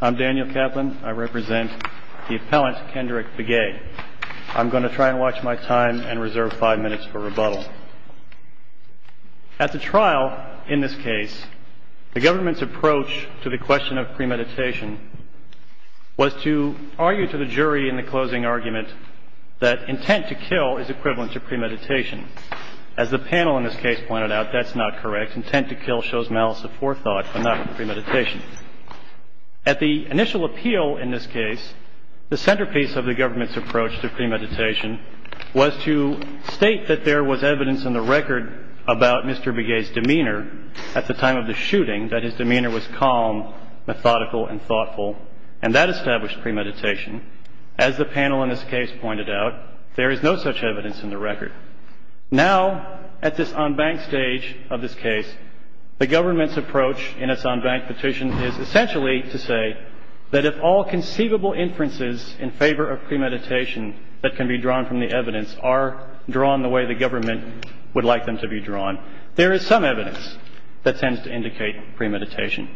I'm Daniel Kaplan. I represent the appellant Kendrick Begay. I'm going to try and watch my time and reserve five minutes for rebuttal. At the trial, in this case, the government's approach to the question of premeditation was to argue to the jury in the closing argument that intent to kill is equivalent to premeditation. As the panel in this case pointed out, that's not correct. Intent to kill shows malice of forethought, but not premeditation. At the initial appeal in this case, the centerpiece of the government's approach to premeditation was to state that there was evidence in the record about Mr. Begay's demeanor at the time of the shooting, that his demeanor was calm, methodical, and thoughtful, and that established premeditation. As the panel in this case pointed out, there is no such evidence in the record. Now, at this en banc stage of this case, the government's approach in its en banc petition is essentially to say that if all conceivable inferences in favor of premeditation that can be drawn from the evidence are drawn the way the government would like them to be drawn, there is some evidence that tends to indicate premeditation.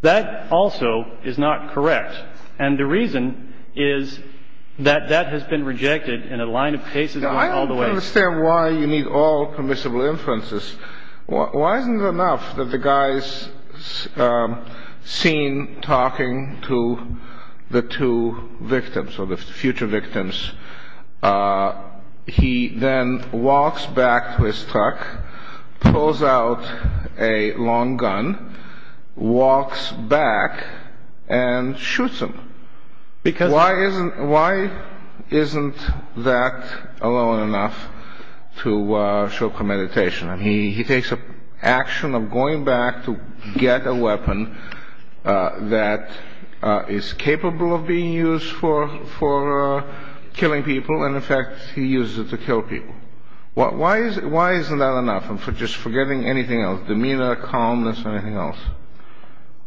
That also is not correct. And the reason is that that has been rejected in a line of cases going all the way up to the Supreme Court. I understand why you need all permissible inferences. Why isn't it enough that the guy is seen talking to the two victims, or the future victims. He then walks back to his truck, pulls out a long gun, walks back, and shoots him. Why isn't that alone enough to show premeditation? He takes action of going back to get a weapon that is capable of being used for killing people, and in fact, he uses it to kill people. Why isn't that enough? And for just forgetting anything else, demeanor, calmness, anything else?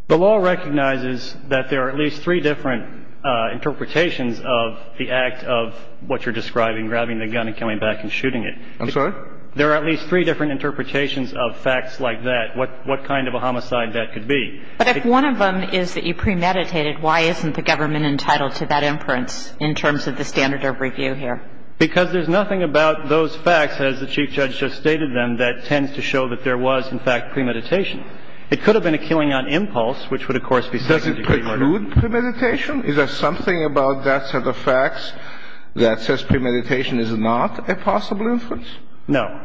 The law recognizes that there are at least three different interpretations of the act of what you're describing, grabbing the gun and coming back and shooting it. I'm sorry? There are at least three different interpretations of facts like that, what kind of a homicide that could be. But if one of them is that you premeditated, why isn't the government entitled to that inference in terms of the standard of review here? Because there's nothing about those facts, as the Chief Judge just stated them, that tends to show that there was, in fact, premeditation. It could have been a killing on impulse, which would, of course, be second-degree murder. Is there something about that set of facts that says premeditation is not a possible inference? No.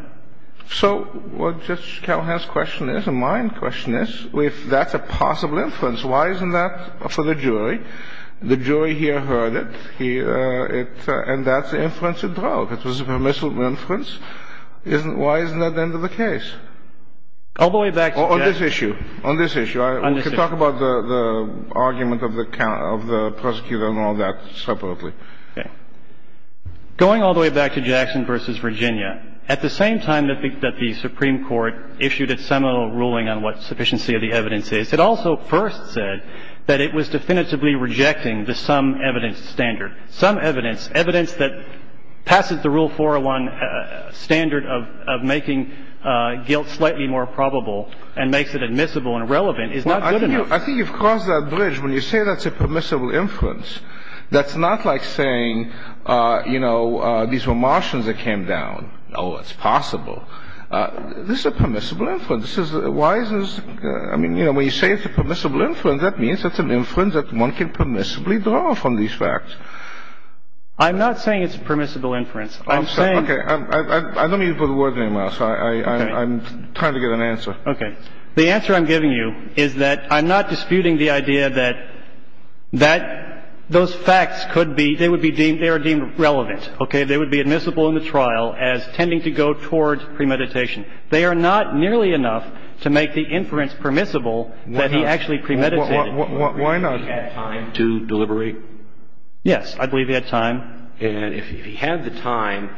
So what Judge Calhoun's question is, and my question is, if that's a possible inference, why isn't that for the jury? The jury here heard it, and that's the inference it drove. It was a permissible inference. Why isn't that the end of the case? All the way back to Jeff. On this issue. On this issue. On this issue. We can talk about the argument of the prosecutor and all that separately. Going all the way back to Jackson v. Virginia, at the same time that the Supreme Court issued its seminal ruling on what sufficiency of the evidence is, it also first said that it was definitively rejecting the sum evidence standard. Sum evidence, evidence that passes the Rule 401 standard of making guilt slightly more probable and makes it admissible and relevant, is not good enough. I think you've crossed that bridge. When you say that's a permissible inference, that's not like saying, you know, these were Martians that came down. Oh, it's possible. This is a permissible inference. Why is this? I mean, you know, when you say it's a permissible inference, that means it's an inference that one can permissibly draw from these facts. I'm not saying it's a permissible inference. I'm saying... Okay. I don't need to put a word in your mouth. I'm trying to get an answer. Okay. The answer I'm giving you is that I'm not disputing the idea that those facts could be, they would be deemed, they are deemed relevant, okay? They would be admissible in the trial as tending to go toward premeditation. They are not nearly enough to make the inference permissible that he actually premeditated. Why not? Had time to deliberate? Yes. I believe he had time. And if he had the time,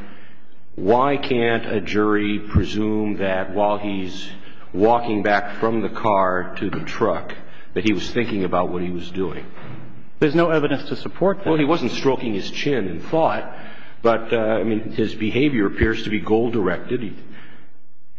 why can't a jury presume that while he's walking back from the car to the truck that he was thinking about what he was doing? There's no evidence to support that. Well, he wasn't stroking his chin in thought, but, I mean, his behavior appears to be goal-directed. He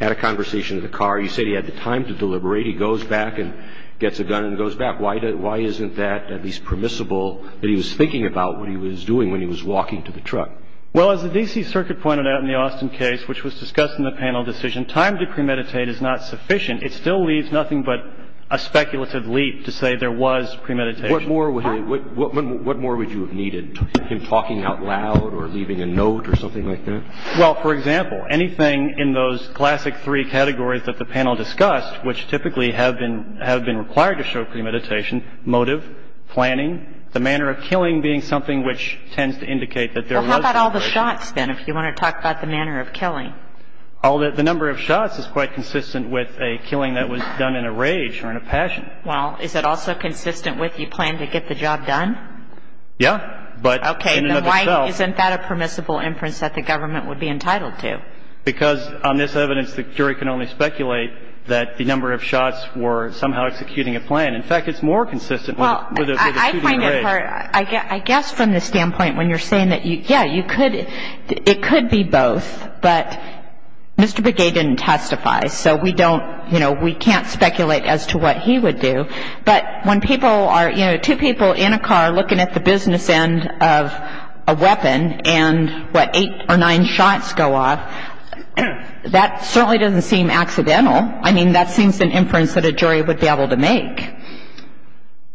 had a conversation in the car. You said he had the time to deliberate. He goes back and gets a gun and goes back. Why isn't that at least permissible that he was thinking about what he was doing when he was walking to the truck? Well, as the D.C. Circuit pointed out in the Austin case, which was discussed in the panel decision, time to premeditate is not sufficient. It still leaves nothing but a speculative leap to say there was premeditation. What more would you have needed, him talking out loud or leaving a note or something like that? Well, for example, anything in those classic three categories that the panel discussed, which typically have been required to show premeditation, motive, planning, the manner of killing being something which tends to indicate that there was premeditation. Well, how about all the shots, then, if you want to talk about the manner of killing? The number of shots is quite consistent with a killing that was done in a rage or in a passion. Well, is it also consistent with you planned to get the job done? Yeah, but in and of itself. Okay, then why isn't that a permissible inference that the government would be entitled to? Why? Because on this evidence, the jury can only speculate that the number of shots were somehow executing a plan. In fact, it's more consistent with a shooting in a rage. Well, I find it hard. I guess from the standpoint when you're saying that, yeah, you could, it could be both, but Mr. Begay didn't testify, so we don't, you know, we can't speculate as to what he would do. But when people are, you know, two people in a car looking at the business end of a That certainly doesn't seem accidental. I mean, that seems an inference that a jury would be able to make.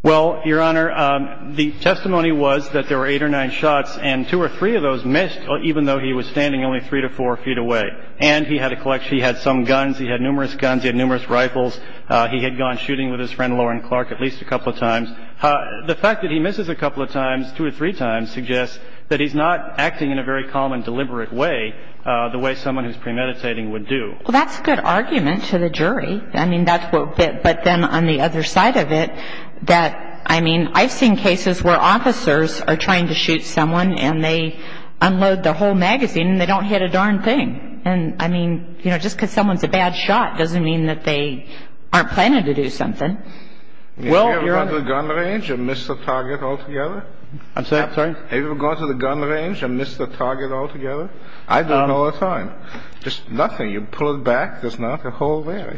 Well, Your Honor, the testimony was that there were eight or nine shots, and two or three of those missed, even though he was standing only three to four feet away. And he had a collection. He had some guns. He had numerous guns. He had numerous rifles. He had gone shooting with his friend Lauren Clark at least a couple of times. The fact that he misses a couple of times, two or three times, suggests that he's not acting in a very calm and deliberate way, the way someone who's premeditating would do. Well, that's a good argument to the jury. I mean, that's what, but then on the other side of it, that, I mean, I've seen cases where officers are trying to shoot someone, and they unload their whole magazine, and they don't hit a darn thing. And I mean, you know, just because someone's a bad shot doesn't mean that they aren't planning to do something. Well, Your Honor. Have you ever gone to the gun range and missed a target altogether? I'm sorry? Have you ever gone to the gun range and missed a target altogether? I do it all the time. Just nothing. You pull it back. There's not a hole there.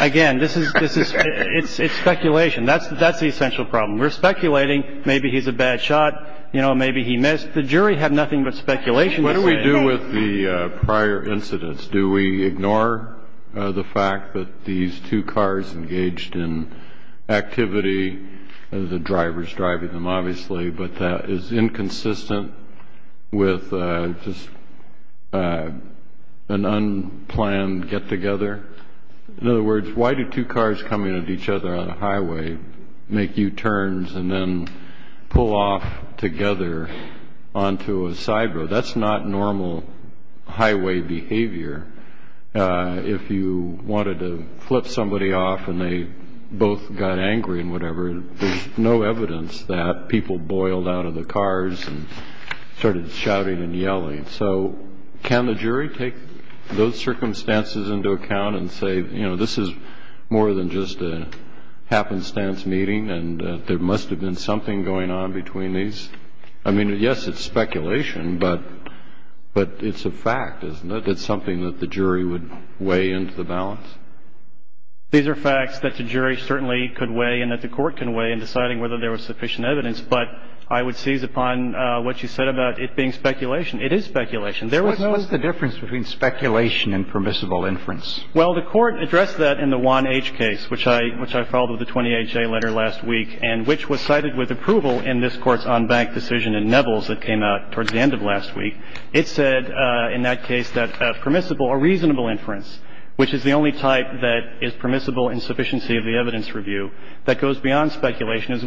Again, this is, this is, it's speculation. That's the essential problem. We're speculating. Maybe he's a bad shot. You know, maybe he missed. The jury had nothing but speculation to say. What do we do with the prior incidents? Do we ignore the fact that these two cars engaged in activity, the driver's driving them, obviously, but that is inconsistent with just an unplanned get-together? In other words, why do two cars coming at each other on a highway make U-turns and then pull off together onto a side road? That's not normal highway behavior. If you wanted to flip somebody off and they both got angry and whatever, there's no evidence that people boiled out of the cars and started shouting and yelling. So can the jury take those circumstances into account and say, you know, this is more than just a happenstance meeting and there must have been something going on between these? I mean, yes, it's speculation, but it's a fact, isn't it? It's something that the jury would weigh into the balance? These are facts that the jury certainly could weigh and that the court can weigh in deciding whether there was sufficient evidence, but I would seize upon what you said about it being speculation. It is speculation. What's the difference between speculation and permissible inference? Well, the court addressed that in the Juan H. case, which I filed with the 20HA letter last week and which was cited with approval in this court's on-bank decision in Nevels that came out towards the end of last week. It said in that case that permissible or reasonable inference, which is the only type that is reasonable, is the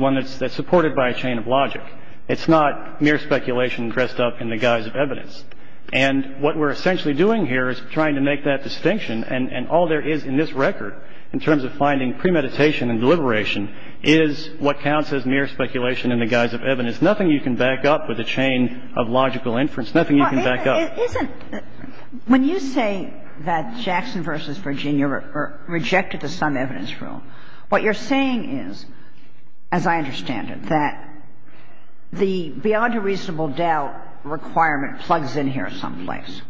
one that's supported by a chain of logic. It's not mere speculation dressed up in the guise of evidence. And what we're essentially doing here is trying to make that distinction. And all there is in this record, in terms of finding premeditation and deliberation, is what counts as mere speculation in the guise of evidence. Nothing you can back up with a chain of logical inference, nothing you can back up. It isn't – when you say that Jackson v. Virginia rejected the sum evidence rule, what you're saying is, as I understand it, that the beyond a reasonable doubt requirement plugs in here someplace,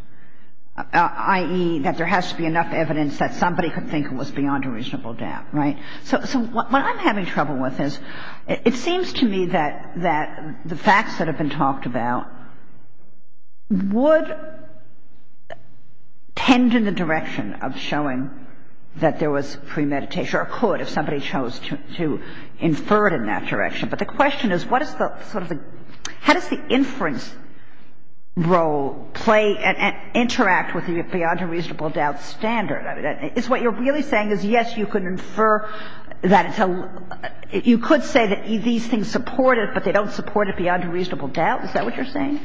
i.e., that there has to be enough evidence that somebody could think it was beyond a reasonable doubt, right? So what I'm having trouble with is it seems to me that the facts that have been talked about would tend in the direction of showing that there was premeditation, or could if somebody chose to infer it in that direction. But the question is, what is the sort of the – how does the inference role play and interact with the beyond a reasonable doubt standard? I mean, is what you're really saying is, yes, you could infer that it's a – you could say that these things support it, but they don't support it beyond a reasonable doubt? Is that what you're saying?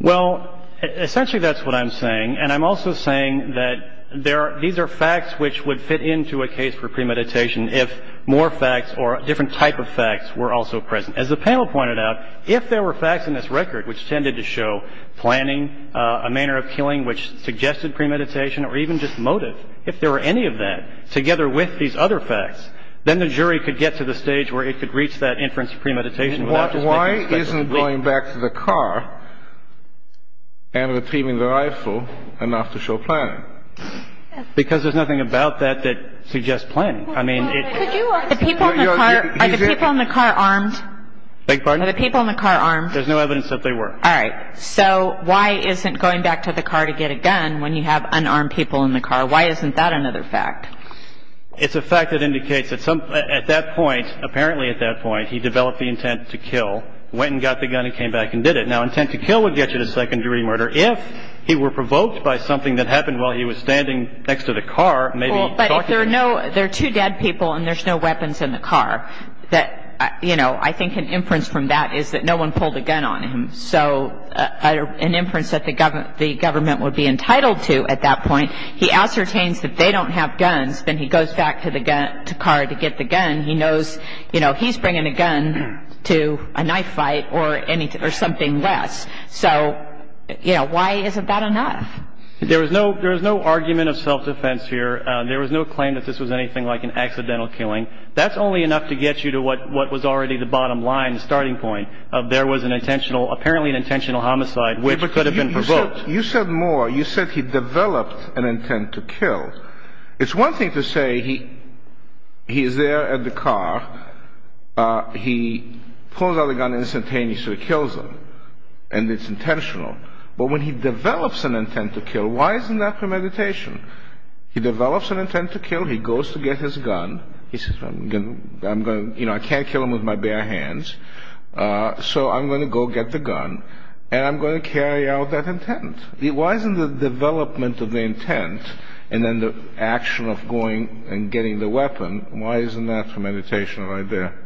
Well, essentially, that's what I'm saying. And I'm also saying that there are – these are facts which would fit into a case for premeditation if more facts or a different type of facts were also present. As the panel pointed out, if there were facts in this record which tended to show planning, a manner of killing which suggested premeditation, or even just motive, if there were any of that together with these other facts, then the jury could get to the stage where it could reach that inference of premeditation without just making – going back to the car and retrieving the rifle enough to show planning. Because there's nothing about that that suggests planning. I mean, it – Could you – The people in the car – are the people in the car armed? Beg your pardon? Are the people in the car armed? There's no evidence that they were. All right. So why isn't going back to the car to get a gun when you have unarmed people in the car? Why isn't that another fact? It's a fact that indicates that some – at that point, apparently at that point, he developed the intent to kill, went and got the gun, and came back and did it. Now, intent to kill would get you to second-degree murder if he were provoked by something that happened while he was standing next to the car, maybe – Well, but if there are no – there are two dead people and there's no weapons in the car, that – you know, I think an inference from that is that no one pulled a gun on him. So an inference that the government would be entitled to at that point. He ascertains that they don't have guns. Then he goes back to the car to get the gun. He knows, you know, he's bringing a gun to a knife fight or anything – or something less. So, you know, why isn't that enough? There was no – there was no argument of self-defense here. There was no claim that this was anything like an accidental killing. That's only enough to get you to what was already the bottom line, the starting point of there was an intentional – apparently an intentional homicide which could have been provoked. You said more. You said he developed an intent to kill. It's one thing to say he's there at the car. He pulls out a gun instantaneously, kills him, and it's intentional. But when he develops an intent to kill, why isn't that premeditation? He develops an intent to kill. He goes to get his gun. He says, you know, I can't kill him with my bare hands. So I'm going to go get the gun and I'm going to carry out that intent. Why isn't the development of the intent and then the action of going and getting the weapon, why isn't that premeditation right there?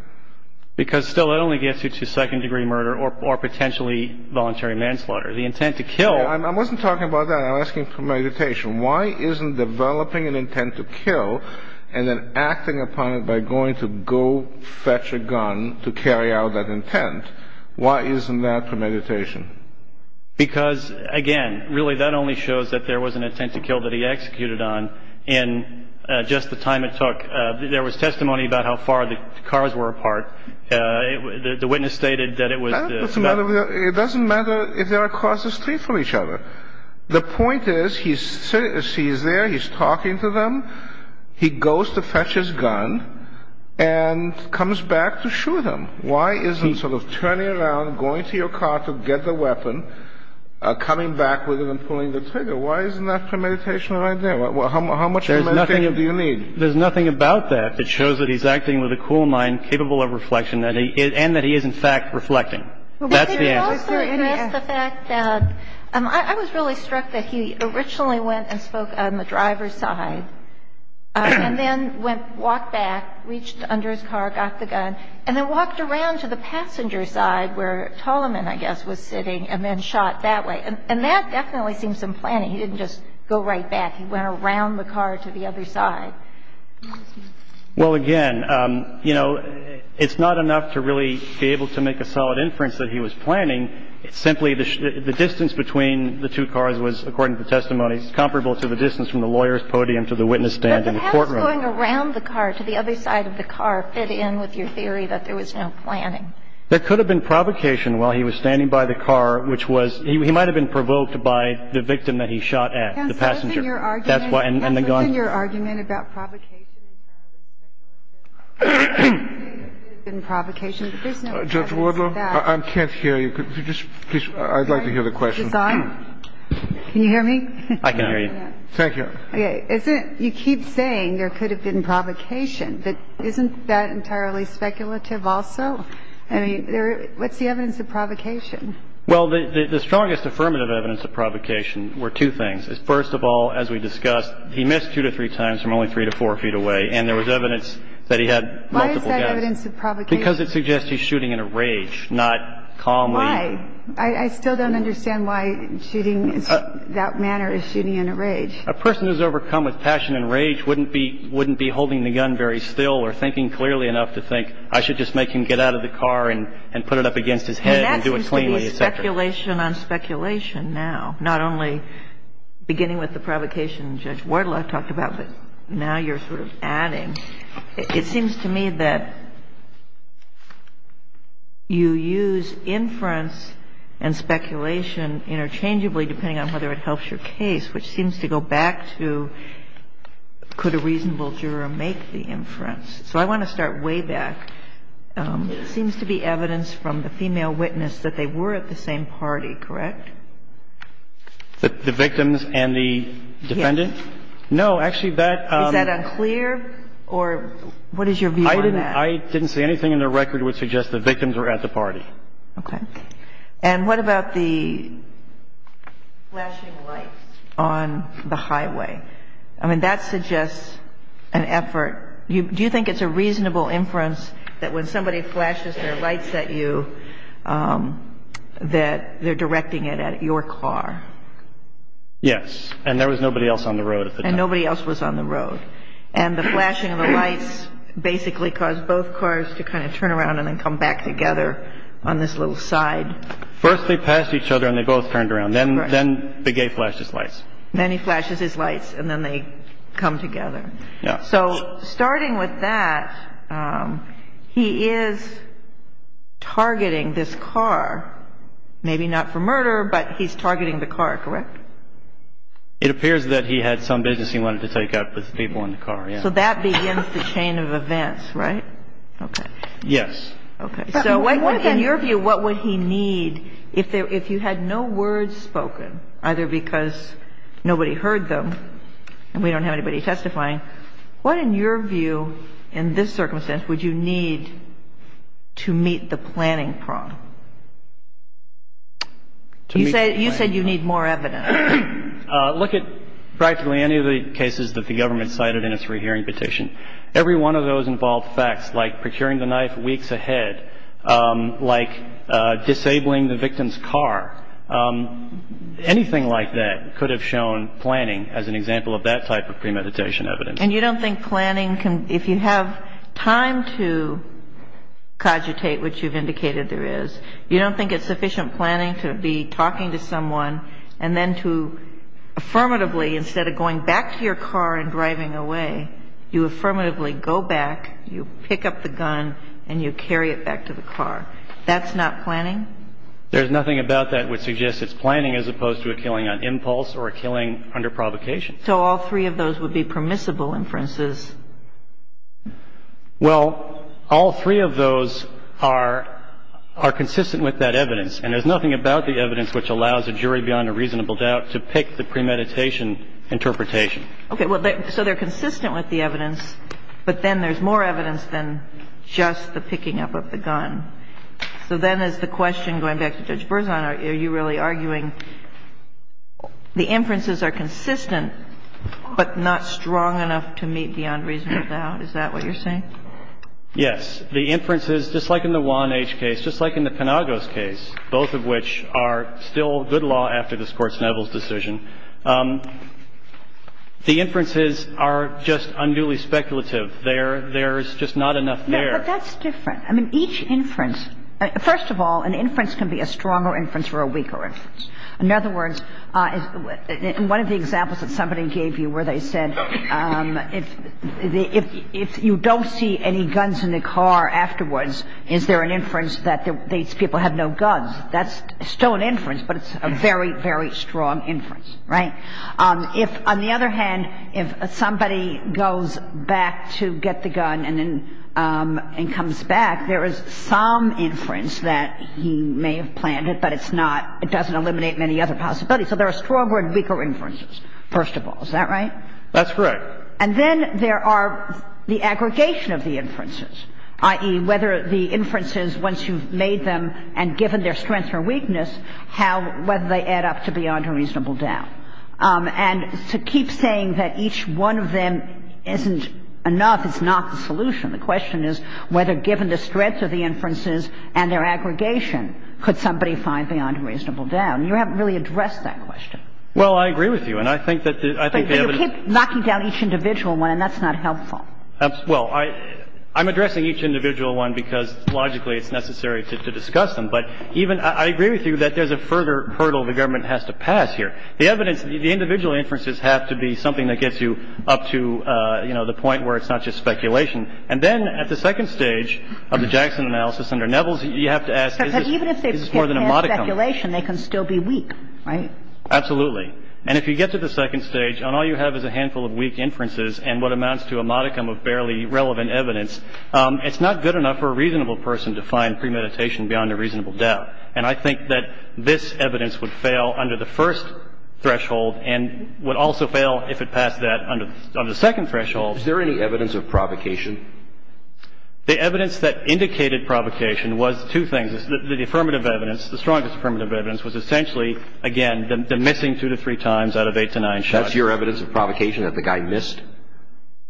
Because still it only gets you to second-degree murder or potentially voluntary manslaughter. The intent to kill – I wasn't talking about that. I'm asking premeditation. Why isn't developing an intent to kill and then acting upon it by going to go fetch a gun to carry out that intent, why isn't that premeditation? Because, again, really that only shows that there was an intent to kill that he executed on in just the time it took. There was testimony about how far the cars were apart. The witness stated that it was – It doesn't matter if they are across the street from each other. The point is he's there. He's talking to them. He goes to fetch his gun and comes back to shoot him. Why isn't sort of turning around, going to your car to get the weapon, coming back with it and pulling the trigger? Why isn't that premeditation right there? How much premeditation do you need? There's nothing about that that shows that he's acting with a cool mind, capable of reflection, and that he is, in fact, reflecting. That's the answer. He also addressed the fact that – I was really struck that he originally went and spoke on the driver's side and then walked back, reached under his car, got the gun, and then walked around to the passenger's side, where Toloman, I guess, was sitting, and then shot that way. And that definitely seems some planning. He didn't just go right back. He went around the car to the other side. Well, again, you know, it's not enough to really be able to make a solid inference that he was planning. It's simply the distance between the two cars was, according to the testimony, comparable to the distance from the lawyer's podium to the witness stand in the courtroom. Does going around the car to the other side of the car fit in with your theory that there was no planning? There could have been provocation while he was standing by the car, which was – he might have been provoked by the victim that he shot at, the passenger. Can someone in your argument – That's why – and the gun – Can someone in your argument about provocation entirely, that there may have been provocation, but there's no evidence of that. Judge Wardlow, I can't hear you. Could you just – please, I'd like to hear the question. Can you hear me? I can hear you. Thank you. Okay. Isn't – you keep saying there could have been provocation, but isn't that entirely speculative also? I mean, there – what's the evidence of provocation? Well, the strongest affirmative evidence of provocation were two things. First of all, as we discussed, he missed two to three times from only three to four feet away, and there was evidence that he had multiple guns. Why is that evidence of provocation? Because it suggests he's shooting in a rage, not calmly. Why? I still don't understand why shooting in that manner is shooting in a rage. A person who's overcome with passion and rage wouldn't be – wouldn't be holding the gun very still or thinking clearly enough to think, I should just make him get out of the car and put it up against his head and do it cleanly, et cetera. I mean, that seems to be speculation on speculation now, not only beginning with the provocation Judge Wardlow talked about, but now you're sort of adding. It seems to me that you use inference and speculation interchangeably, depending on whether it helps your case, which seems to go back to could a reasonable juror make the inference. So I want to start way back. It seems to be evidence from the female witness that they were at the same party, correct? The victims and the defendant? Yes. No, actually, that – Is that unclear, or what is your view on that? I didn't – I didn't see anything in the record which suggests the victims were at the party. Okay. And what about the flashing lights on the highway? I mean, that suggests an effort. Do you think it's a reasonable inference that when somebody flashes their lights at you, that they're directing it at your car? Yes. And there was nobody else on the road at the time. And nobody else was on the road. And the flashing of the lights basically caused both cars to kind of turn around and then come back together on this little side. First they passed each other, and they both turned around. Then the gay flashes lights. Then he flashes his lights, and then they come together. Yeah. So starting with that, he is targeting this car. Maybe not for murder, but he's targeting the car, correct? It appears that he had some business he wanted to take up with people in the car, yeah. So that begins the chain of events, right? Okay. Yes. Okay. So in your view, what would he need if you had no words spoken, either because nobody heard them and we don't have anybody testifying? What, in your view, in this circumstance, would you need to meet the planning problem? You said you need more evidence. Look at practically any of the cases that the government cited in its rehearing petition. Every one of those involved facts like procuring the knife weeks ahead, like disabling the victim's car, anything like that could have shown planning as an example of that type of premeditation evidence. And you don't think planning can, if you have time to cogitate, which you've indicated there is, you don't think it's sufficient planning to be talking to someone and then to affirmatively, instead of going back to your car and driving away, you affirmatively go back, you pick up the gun, and you carry it back to the car. That's not planning? There's nothing about that which suggests it's planning as opposed to a killing on impulse or a killing under provocation. So all three of those would be permissible inferences? Well, all three of those are consistent with that evidence. And there's nothing about the evidence which allows a jury beyond a reasonable doubt to pick the premeditation interpretation. Okay. So they're consistent with the evidence, but then there's more evidence than just the picking up of the gun. So then is the question, going back to Judge Berzon, are you really arguing the inferences are consistent but not strong enough to meet beyond reasonable doubt? Is that what you're saying? Yes. The inferences, just like in the Juan H. case, just like in the Penagos case, both of which are still good law after this Court's Neville's decision, the inferences are just unduly speculative. There's just not enough there. No, but that's different. I mean, each inference – first of all, an inference can be a stronger inference or a weaker inference. In other words, one of the examples that somebody gave you where they said if you don't see any guns in the car afterwards, is there an inference that these people have no guns? That's still an inference, but it's a very, very strong inference. Right? If, on the other hand, if somebody goes back to get the gun and then comes back, there is some inference that he may have planned it, but it's not – it doesn't eliminate many other possibilities. So there are strong or weaker inferences, first of all. Is that right? That's correct. And then there are the aggregation of the inferences, i.e., whether the inferences, once you've made them and given their strengths or weakness, how – whether they add up to beyond a reasonable doubt. And to keep saying that each one of them isn't enough is not the solution. The question is whether, given the strength of the inferences and their aggregation, could somebody find beyond a reasonable doubt? And you haven't really addressed that question. Well, I agree with you. And I think that – But you keep knocking down each individual one, and that's not helpful. Well, I'm addressing each individual one because logically it's necessary to discuss them. But even – I agree with you that there's a further hurdle the government has to pass here. The evidence – the individual inferences have to be something that gets you up to, you know, the point where it's not just speculation. And then at the second stage of the Jackson analysis under Nevels, you have to ask is this more than a modicum. But even if they can't have speculation, they can still be weak, right? Absolutely. And if you get to the second stage, and all you have is a handful of weak inferences and what amounts to a modicum of barely relevant evidence, it's not good enough for a reasonable person to find premeditation beyond a reasonable doubt. And I think that this evidence would fail under the first threshold and would also fail if it passed that under the second threshold. Is there any evidence of provocation? The evidence that indicated provocation was two things. The affirmative evidence, the strongest affirmative evidence, was essentially, again, the missing two to three times out of eight to nine shots. That's your evidence of provocation, that the guy missed?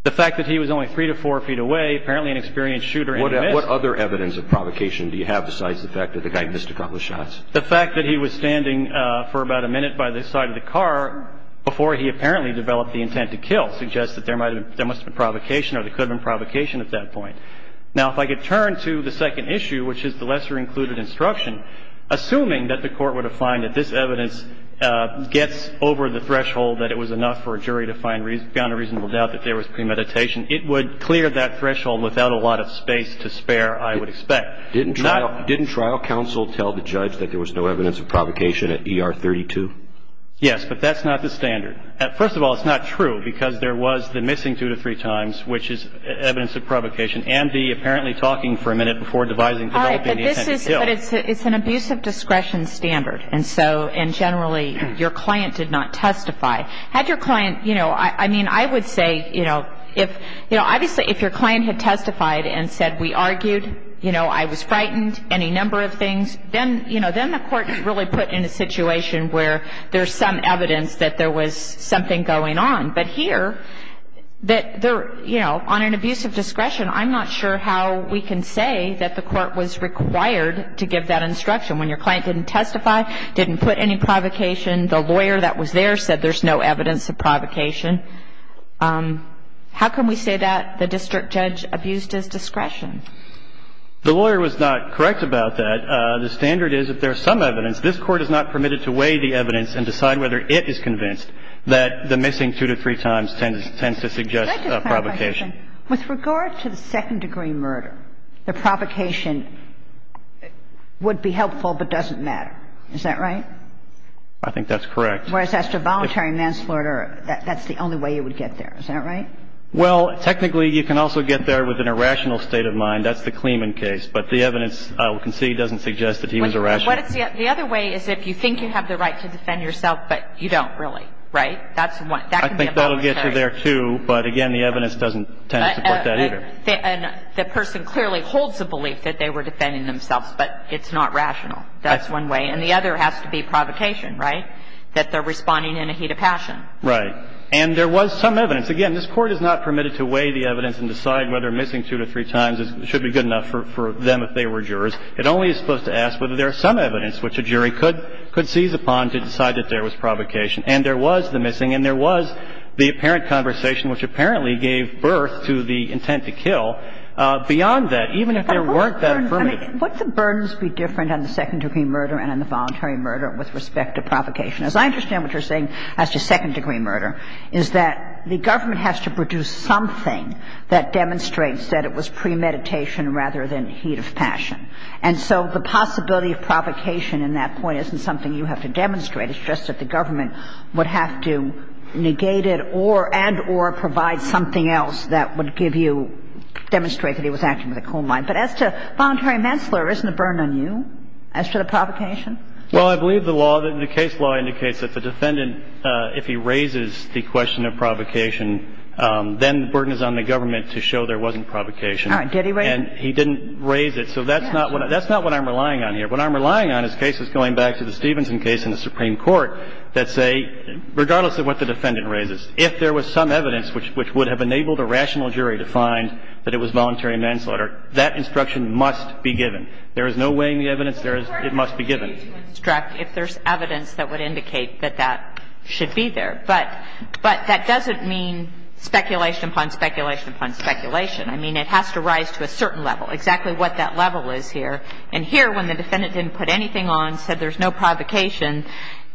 The fact that he was only three to four feet away, apparently an experienced shooter, and he missed. What other evidence of provocation do you have besides the fact that the guy missed a couple of shots? The fact that he was standing for about a minute by the side of the car before he apparently developed the intent to kill suggests that there must have been provocation or there could have been provocation at that point. Now, if I could turn to the second issue, which is the lesser-included instruction, assuming that the Court would have found that this evidence gets over the threshold that it was enough for a jury to find beyond a reasonable doubt that there was premeditation, it would clear that threshold without a lot of space to spare, I would expect. Didn't trial counsel tell the judge that there was no evidence of provocation at ER 32? Yes, but that's not the standard. First of all, it's not true, because there was the missing two to three times, which is evidence of provocation, and the apparently talking for a minute before devising developing the intent to kill. But it's an abuse of discretion standard, and generally your client did not testify. Had your client, you know, I mean, I would say, you know, obviously if your client had testified and said, we argued, you know, I was frightened, any number of things, then, you know, then the Court really put in a situation where there's some evidence that there was something going on. But here, that there, you know, on an abuse of discretion, I'm not sure how we can say that the Court was required to give that instruction when your client didn't testify, didn't put any provocation, the lawyer that was there said there's no evidence of provocation. How can we say that the district judge abused his discretion? The lawyer was not correct about that. The standard is if there's some evidence, this Court is not permitted to weigh the evidence and decide whether it is convinced that the missing two to three times tends to suggest a provocation. With regard to the second degree murder, the provocation would be helpful but doesn't matter. Is that right? I think that's correct. Whereas as to voluntary manslaughter, that's the only way you would get there. Is that right? Well, technically, you can also get there with an irrational state of mind. That's the Kleeman case. But the evidence we can see doesn't suggest that he was irrational. The other way is if you think you have the right to defend yourself, but you don't really. Right? That's one. I think that'll get you there, too. But again, the evidence doesn't tend to support that either. The person clearly holds the belief that they were defending themselves, That's one way. And the other has to be provocation, right? That they're responding in a heat of passion. Right. And there was some evidence. Again, this Court is not permitted to weigh the evidence and decide whether missing two to three times should be good enough for them if they were jurors. It only is supposed to ask whether there is some evidence which a jury could seize upon to decide that there was provocation. And there was the missing, and there was the apparent conversation which apparently gave birth to the intent to kill. Beyond that, even if there weren't that affirmative... Would the burdens be different on the second degree murder and on the voluntary murder with respect to provocation? As I understand what you're saying as to second degree murder, is that the government has to produce something that demonstrates that it was premeditation rather than heat of passion. And so the possibility of provocation in that point isn't something you have to demonstrate. It's just that the government would have to negate it and or provide something else that would give you... demonstrate that he was acting with a cold mind. But as to voluntary manslaughter, isn't it burned on you as to the provocation? Well, I believe the law, the case law indicates that the defendant, if he raises the question of provocation, then the burden is on the government to show there wasn't provocation. All right. Did he raise it? And he didn't raise it. So that's not what I'm relying on here. What I'm relying on is cases going back to the Stevenson case in the Supreme Court that say regardless of what the defendant raises, if there was some evidence which would have enabled a rational jury to find that it was voluntary manslaughter, that instruction must be given. There is no weighing the evidence. There is... There is no weight to instruct if there's evidence that would indicate that that should be there. But that doesn't mean speculation upon speculation upon speculation. I mean, it has to rise to a certain level, exactly what that level is here. And here, when the defendant didn't put anything on, said there's no provocation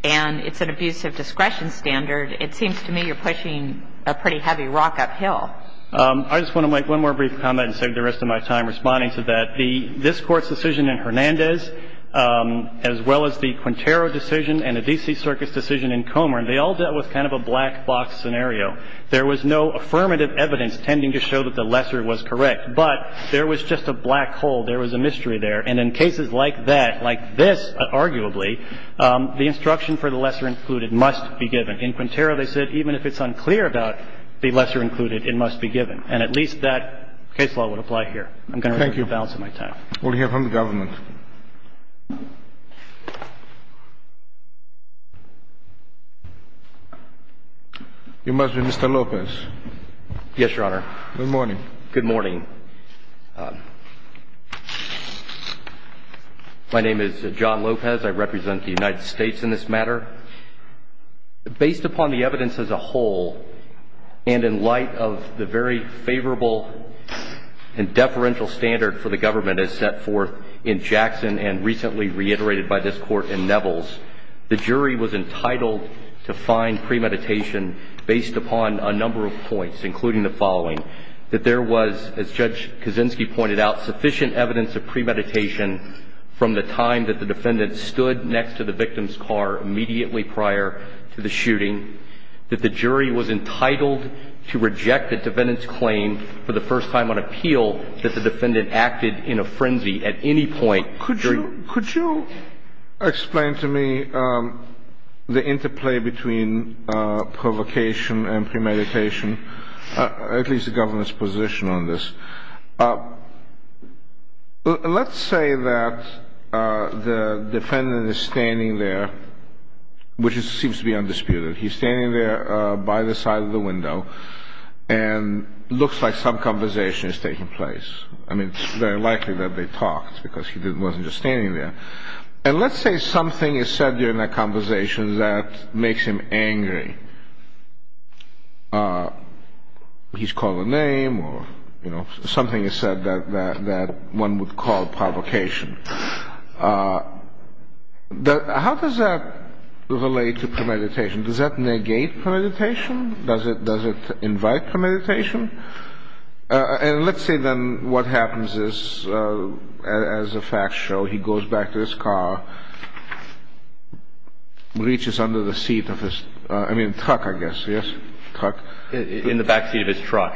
and it's an abusive discretion standard, it seems to me you're pushing a pretty heavy rock uphill. I just want to make one more brief comment and save the rest of my time responding to that. This Court's decision in Hernandez as well as the Quintero decision and the D.C. Circus decision in Comer, they all dealt with kind of a black box scenario. There was no affirmative evidence tending to show that the lesser was correct. But there was just a black hole. There was a mystery there. And in cases like that, like this, arguably, the instruction for the lesser included must be given. In Quintero, they said even if it's unclear about the lesser included, it must be given. And at least that case law would apply here. I'm going to... Thank you. ...reduce the balance of my time. We'll hear from the government. Thank you. You must be Mr. Lopez. Yes, Your Honor. Good morning. Good morning. My name is John Lopez. I represent the United States in this matter. Based upon the evidence as a whole and in light of the very favorable and deferential standard for the government as set forth in Jackson and recently reiterated by this Court in Nevels, the jury was entitled to find premeditation based upon a number of points, including the following, that there was, as Judge Kaczynski pointed out, sufficient evidence of premeditation from the time that the defendant stood next to the victim's car immediately prior to the shooting, that the jury was entitled to reject the defendant's claim for the first time on appeal that the defendant acted in a frenzy at any point. Could you explain to me the interplay between provocation and premeditation, at least the government's position on this? Let's say that the defendant is standing there, which seems to be undisputed. He's standing there by the side of the window and it looks like some conversation is taking place. I mean, it's very likely that they talked because he wasn't just standing there. And let's say something is said during that conversation that makes him angry. He's called a name or something is said that one would call provocation. How does that relate to premeditation? Does that negate premeditation? Does it invite premeditation? And let's say then what happens is as the facts show, he goes back to his car, reaches under the seat of his truck, I guess. Yes? In the back seat of his truck.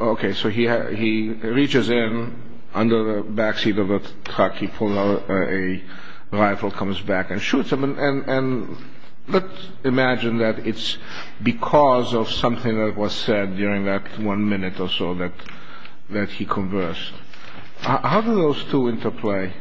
Okay. So he reaches in under the back seat of the truck. He pulls out a rifle, comes back, and shoots him. And let's imagine that it's because of something that was said during that one conversation that one minute or so that he conversed. How do those two interplay?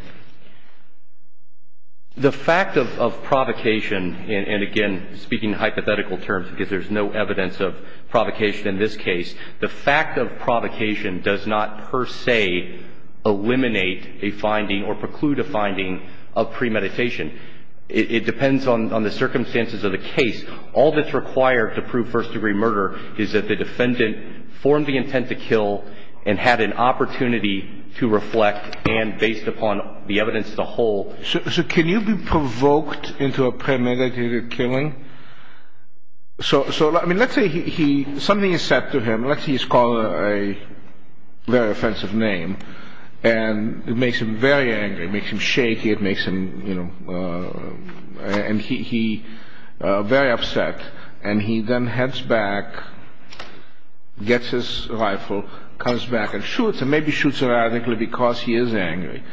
The fact of provocation and again speaking in hypothetical terms because there's no evidence of provocation in this case, the fact of provocation does not per se eliminate a finding or preclude a finding It depends on the circumstances of the case. All that's required to prove first degree murder is that the defendant formed the intent to kill and had an opportunity to reflect and based upon the evidence as a whole. So can you be provoked into a premeditated killing? So let's say something is said to him, let's say he's called a very offensive name and it makes him very angry, it makes him shaky, it makes him you know and he very upset and he then heads back gets his rifle comes back and shoots and maybe shoots radically because he is angry.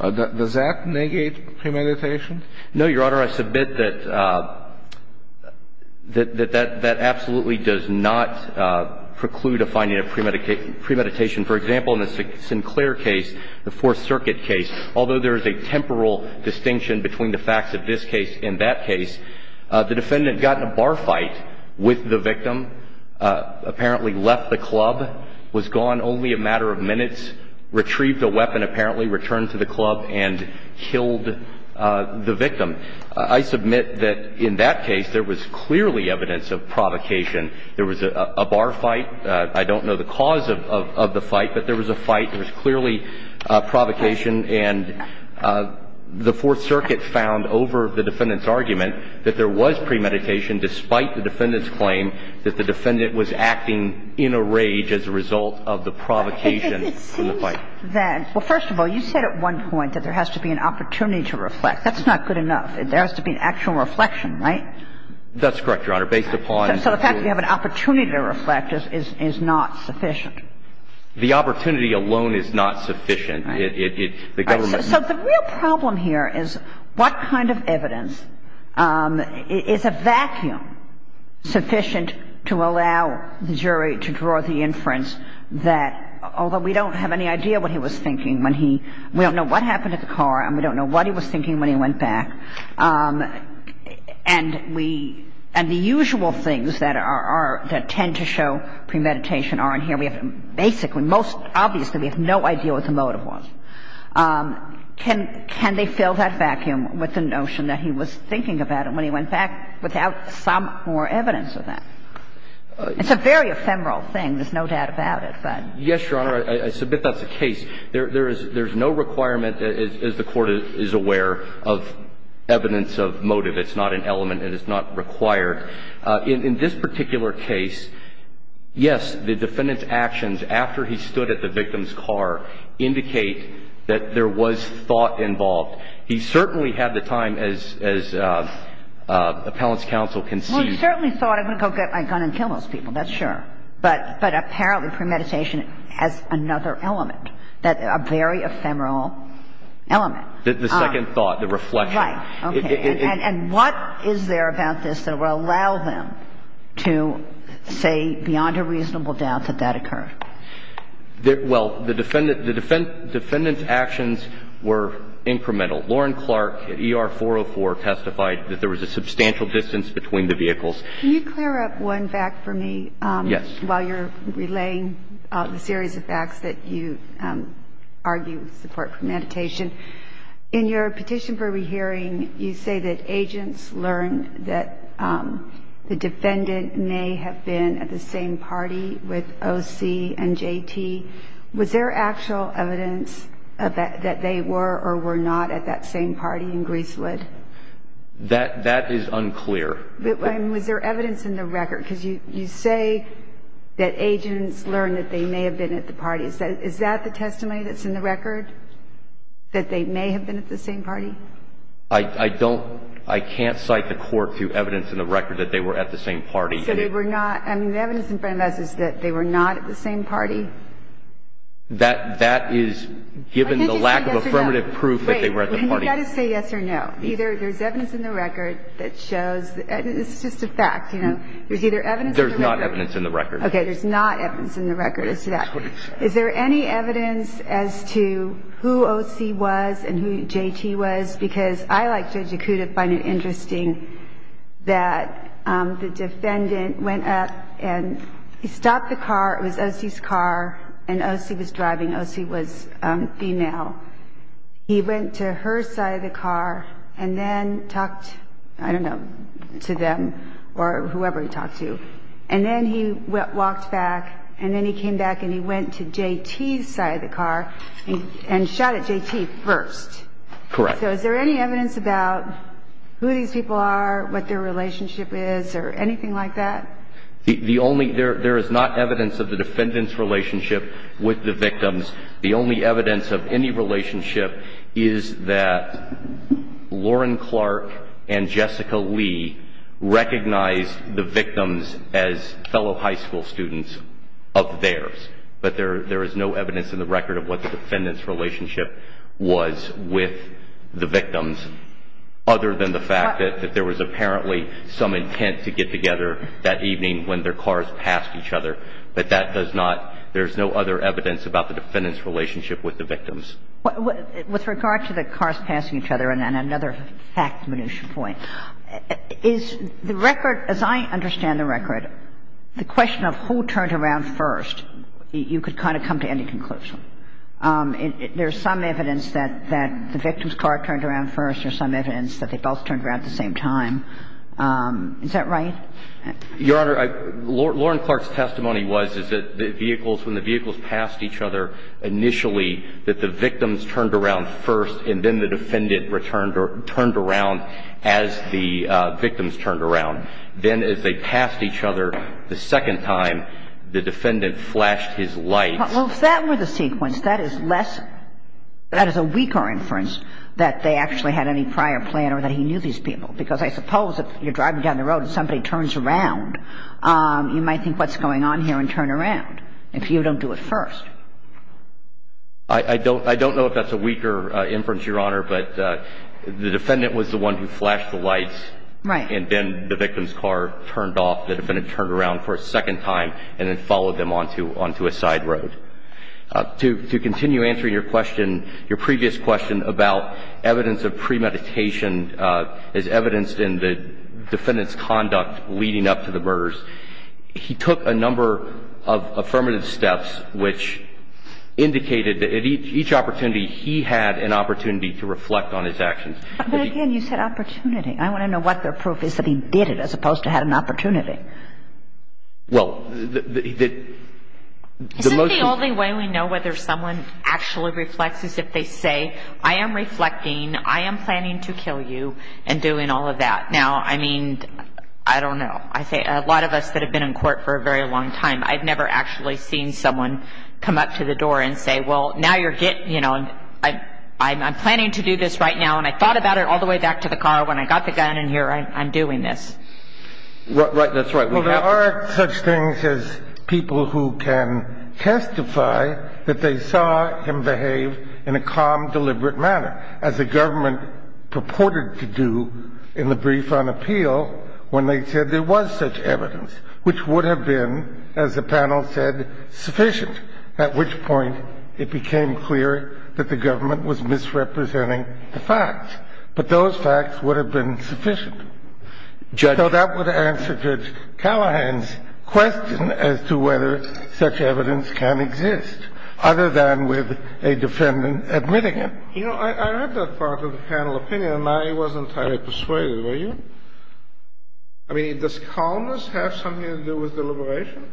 Does that negate premeditation? No Your Honor I submit that that absolutely does not preclude a finding of premeditation. For example in the Sinclair case the Fourth Circuit case although there is a temporal distinction between the facts of this case and that case the defendant got in a bar fight with the victim apparently left the club was gone only a matter of minutes retrieved a weapon apparently returned to the club and killed the victim. I submit that in that case there was clearly evidence of provocation. There was a bar fight I don't know the cause of the fight but there was a fight there was clearly provocation and the Fourth Circuit found over the defendant's argument that there was premeditation despite the defendant's claim that the defendant was acting in a rage as a result of the provocation from the fight. It seems that well first of all you said at one point that there has to be an opportunity to reflect that's not good enough there has to be an actual reflection right? That's correct Your Honor based upon So the fact that you have an opportunity to reflect is not sufficient? The opportunity alone is not sufficient to allow the jury to draw the inference that although we don't have any idea what he was thinking when he we don't know what happened to the car and we don't know what he was thinking when he went back and we and the usual things that are that tend to show premeditation are in here we have basically most obviously we have no idea what the motive was can they fill that vacuum with the notion that he was thinking about when he went back without some more evidence of that? It's a very ephemeral thing there's no doubt about it but Yes Your Honor I submit that's the case there's no requirement as the court is aware of evidence of motive it's not an element and it's not required in this particular case yes the defendant's actions after he stood at the victim's car indicate that there was some sort of thought involved he certainly had the time as appellant's counsel conceived he certainly thought I'm going to go get my gun and kill those people that's sure but apparently premeditation has another element a very ephemeral element the second thought the reflection right and what is there about this that will allow them to say beyond a reasonable doubt that that occurred? well the defendant the defendant's actions were incremental Lauren Clark at ER 404 testified that there was a substantial distance between the vehicles can you clear up one fact for me yes while you're relaying the series of facts that you argue support premeditation in your petition for re-hearing you say that agents learn that the defendant may have been at the same party with OC and JT was there actual evidence that they were or were not at that same party in Greasewood? that is unclear was there evidence in the record because you say that agents learn that they may have been at the party is that the testimony that's in the record that they may have been at the same party I don't I can't cite the court through evidence in the record that they were at the same party so they were not the evidence in front of us is that they were not at the same party that is given the lack of affirmative proof that they were at the party you have to say yes or no there is evidence in the record that shows it is just a fact there is not evidence in the record is there any evidence as to who OC was and who JT was because I like judge he went to her side of the car and then talked I don't know to them or whoever he talked to and then he walked back and then he came back and he went to JT's side of the car and shot at JT first so is there any evidence about who these people are what their relationship is or anything like that there is not evidence of the defendants relationship with the victims the only evidence of any relationship is that Lauren Clark and Jessica Lee recognized the victims as fellow high school students of theirs but there is no evidence in the record of what the defendants relationship was with the victims other than the fact that there was apparently some intent to get together that evening when their cars passed each other but that does not there's no other evidence about the defendants relationship with the victims with regard to the victims car turned around first or some evidence that they both turned around at the same time is that right your honor Lauren Clark's testimony was when the vehicles passed each other initially that the victims turned around first and then the defendant turned around as the victims turned around then as they passed each other the second time the defendant flashed his light well if that were the sequence that is less that is a weaker inference that they actually had any prior plan or that he knew these people because I suppose if you're where the victim turned around and then the defendant turned around and then followed them onto a side road to continue answering your question your previous question about evidence of premeditation as evidenced in the defendant's conduct leading up to the murders he took a number of affirmative steps which indicated that each opportunity he had an opportunity to reflect on his actions but again you said opportunity I want to know what their proof is that he did it as opposed to had an opportunity well the only way we know whether someone actually reflects is if they say I am reflecting I am planning to kill you and doing all of that now I mean I don't know I say a lot of us that have been in court for a very long time I've never actually seen someone come up to the door and say I'm planning to do this right now and I thought about it all the way back to the car when I got the gun in here I'm doing this well there are such things as people who can testify that they saw him behave in a calm deliberate manner as the government purported to do in the brief on appeal when they said there was such evidence which would have been as the panel said sufficient at which point it became clear that the government was misrepresenting the facts but those facts would have been sufficient so that would answer Judge Callahan's question as to whether such evidence can exist other than with a defendant admitting it you know I read that part of the panel opinion and I wasn't entirely persuaded were you? I mean does calmness have something to do with deliberation?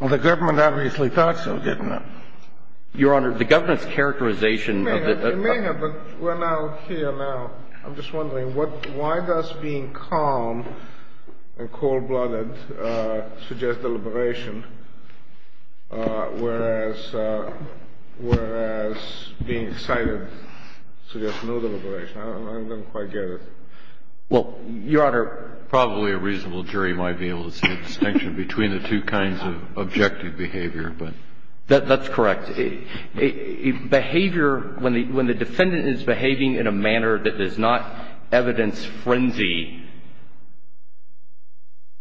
Well the government obviously thought so didn't it? Your Honor the government's characterization may have but we're now here now I'm just wondering why does being calm and cold blooded suggest deliberation whereas whereas being excited suggests no deliberation I don't quite get it well Your Honor probably a reasonable jury might be able to see the distinction between the two kinds of objective behavior that's correct behavior when the defendant is behaving in a manner that does not evidence frenzy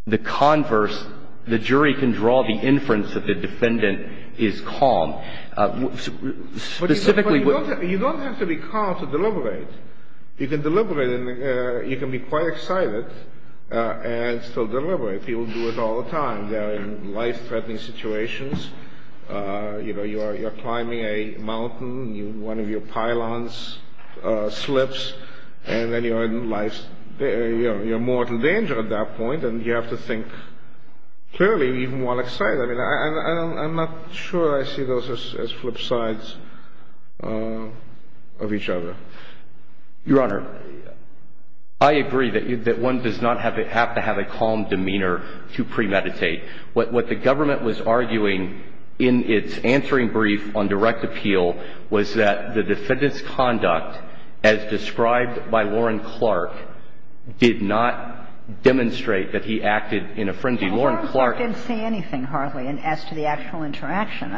the converse the jury can draw the inference that the defendant is calm specifically you don't have to be calm to deliberate you can deliberate you can be quite excited and still deliberate people do it all the time they're in life threatening situations you know you're climbing a mountain one of your pylons slips and then you're in life you're in mortal danger at that point and you have to think clearly even while excited I'm not sure I see those as flip sides of each other your honor I agree that one does not have to have a calm demeanor to premeditate what the government was arguing in its answering brief on direct appeal was that the defendant's conduct as described by Warren Clark did not demonstrate that he acted in a frenzy Warren Clark didn't say anything hardly as to the actual interaction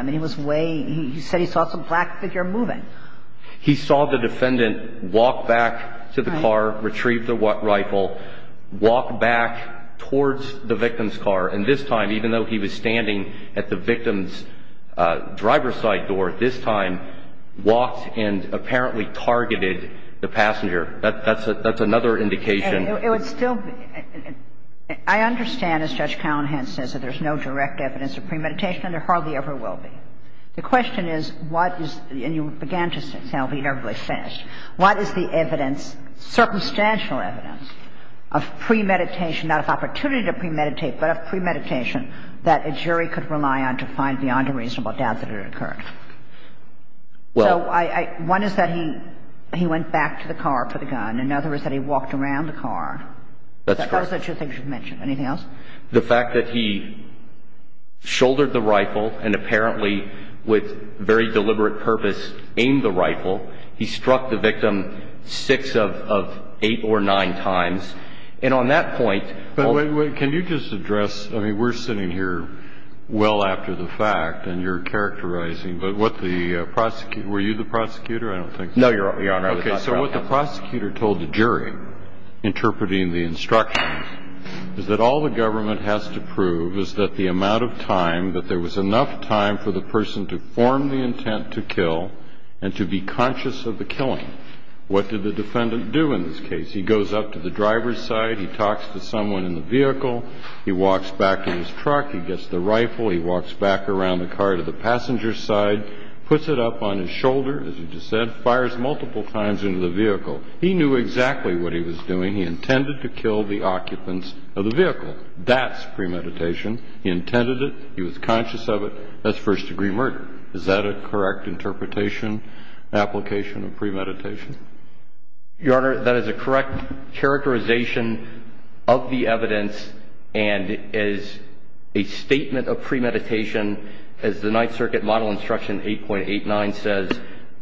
he said he saw some black figure moving he saw the defendant walk back to the car retrieve the rifle walk back towards the victim's car and this time even though he was standing at the victim's driver's side door this time walked and apparently targeted the passenger that's another indication it would still be I understand as Judge Callahan says that there's no direct evidence of premeditation and there hardly ever will be the question is what is and you began to say what is the evidence circumstantial evidence of premeditation not of opportunity to premeditate but of premeditation that a jury could rely on to find beyond a reasonable doubt that it occurred well one is that he went back to the car for the gun another is that he walked around the car that's correct the fact that he shouldered the rifle and apparently with very deliberate purpose aimed the rifle he struck the victim six of eight or nine times and on that point but wait can you just address we're sitting here well after the fact and you're characterizing but what the prosecutor were you the prosecutor I don't think so what the prosecutor told the jury interpreting the instructions is that all the government has to prove is that the amount of time that there was enough time for the person to form the intent to kill and to be conscious of the killing what did the defendant do in this case he goes up to the driver's side he talks to someone in the vehicle he walks back to his truck he gets the rifle he walks back around the car to the passenger's side puts it up on his shoulder fires multiple times into the vehicle he knew exactly what he was doing he intended to kill the occupants of the vehicle that's premeditation he intended it he was conscious of it that's first degree murder is that a correct interpretation application of premeditation your honor that is a correct characterization of the evidence and is a statement of premeditation as the ninth circuit model instruction 8.89 says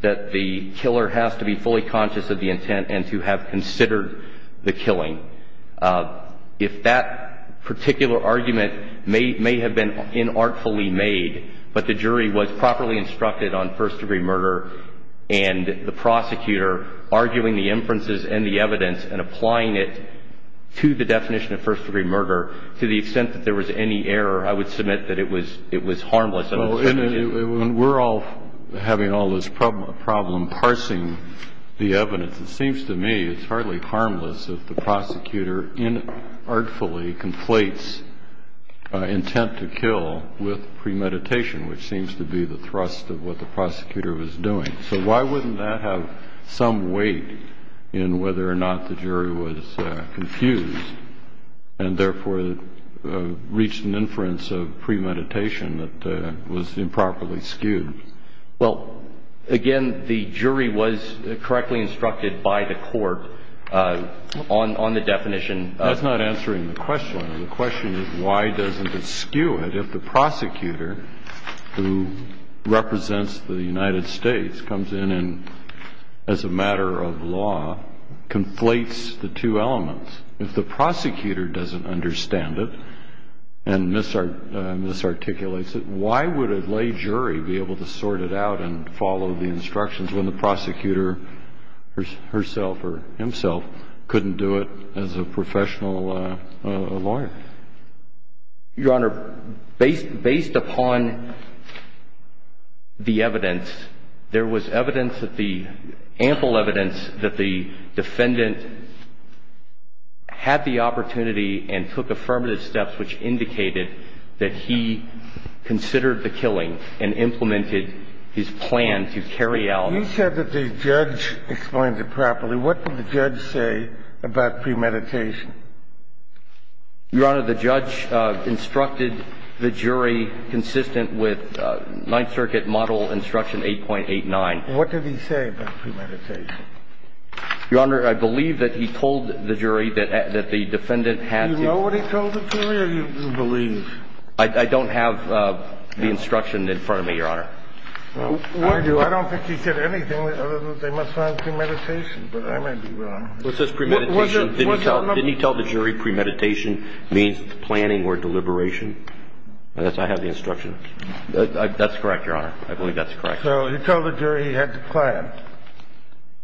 that the killer has to be fully conscious of the intent and to have considered the killing if that particular argument may have been inartfully made but the jury was properly instructed on first degree murder and the prosecutor arguing the inferences and the evidence and applying it to the definition of first degree would be harmless if the prosecutor inartfully conflates intent to kill with premeditation which seems to be the thrust of what the prosecutor was doing so why wouldn't that have some weight in whether or not the jury was confused and therefore reached an inference of premeditation that was improperly skewed well again the jury was correctly instructed by the court on the definition that's not answering the question the question is why doesn't it skew it if the prosecutor who represents the United States comes in and as a matter of law conflates the two elements if the prosecutor doesn't understand it and misarticulates it why would a lay jury be able to sort it out and follow the instructions when the prosecutor herself or himself couldn't do it as a professional lawyer your honor based upon the evidence there was evidence that the ample evidence that the defendant had the opportunity and took affirmative steps which indicated that he considered the killing and implemented his plan to carry out you said that but the judge explained it properly what did the judge say about premeditation your honor the judge instructed the jury consistent with ninth circuit model instruction eight point eight nine what did he say about premeditation your honor I believe that he told the jury that the defendant had do you know what he told the jury I'm not sure you believe I don't have the instruction in front of me your honor I don't think he said anything other than they must find premeditation but I might be wrong what's this premeditation didn't he tell didn't he tell the jury premeditation means planning or deliberation I guess I have the instruction that's correct your honor I believe that's correct so he told the jury he had to plan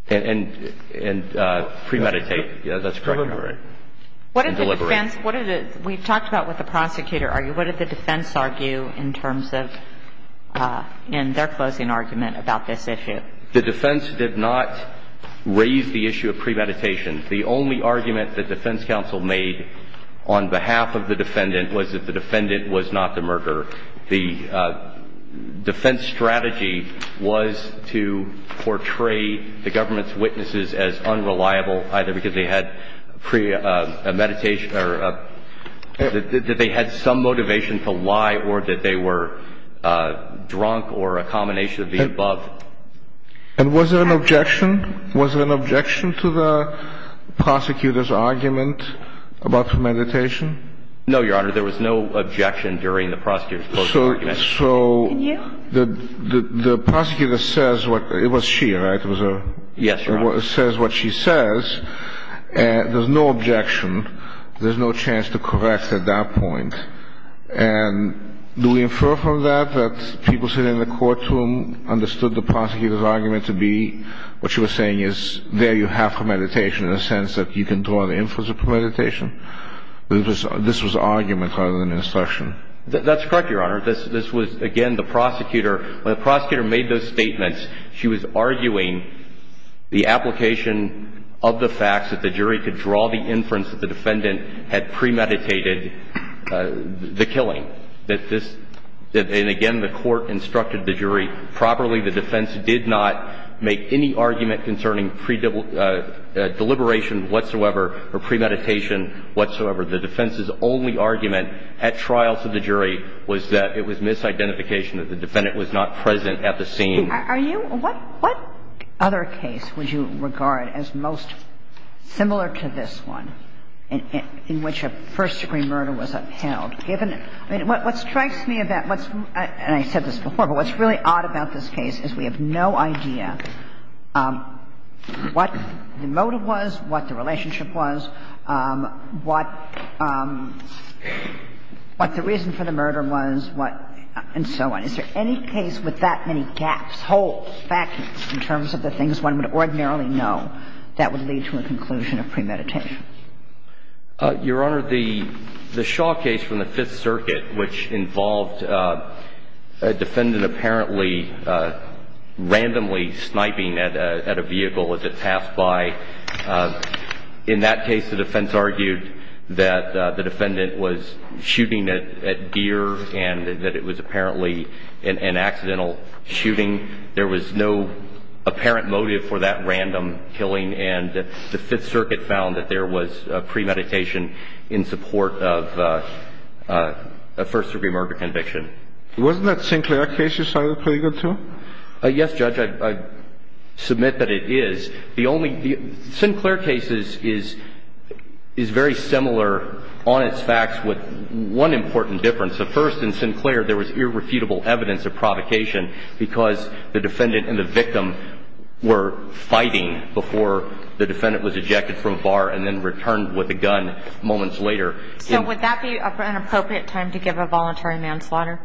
and and premeditate yeah that's correct deliberate what did the defense what did the we talked about what the prosecutor argued what did the defense argue in terms of in their closing argument about this issue the defense did not raise the issue of premeditation the only argument the defense counsel made on behalf of the defendant was that the defendant was not the murderer the defense strategy was to portray the government's position as unreliable either because they had premeditation or that they had some motivation to lie or that they were drunk or a combination of the above and was there an objection was there an objection to the prosecutor's argument about premeditation no your honor there was no objection during the prosecutor's closing argument so the prosecutor says what it was she right it was her yes your honor says what she says there's no objection there's no chance to correct at that point and do we infer from that that people sitting in the courtroom understood the prosecutor's argument to be what she was saying is there you have premeditation in the sense that you can draw the influence of premeditation this was argument rather than instruction that's correct your honor this was again the prosecutor when the prosecutor made those statements she was arguing the application of the facts that the jury could draw the inference that the defendant had premeditated the killing and again the court instructed the jury properly the defense did not make any argument concerning deliberation whatsoever or premeditation whatsoever the defense's only argument at trial to the jury was that it was misidentification that the defendant was not present at the scene are you what other case would you regard as most similar to this one in which a first degree murder was upheld given what strikes me about and I said this before but what's really odd about this case is we have no idea what the motive was what the relationship was what what the reason for the murder was and so on is there any case with that many gaps holes in terms of the things one would ordinarily know that would lead to a conclusion of premeditation your honor the Shaw case from the 5th circuit which involved a defendant apparently randomly sniping at a vehicle as it passed by in that case the defense argued that the defendant was shooting at deer and that it was apparently an accidental shooting there was no apparent motive for that random killing and the 5th circuit found that there was premeditation in support of a first degree murder conviction wasn't that Sinclair case you cited pretty good too yes judge I submit that it is the only Sinclair Sinclair case is very similar on its facts with one important difference the first in Sinclair there was irrefutable evidence of provocation because the defendant and the victim were fighting before the defendant was ejected from a bar and then returned with a gun to the defendant moments later so would that be an appropriate time to give a voluntary manslaughter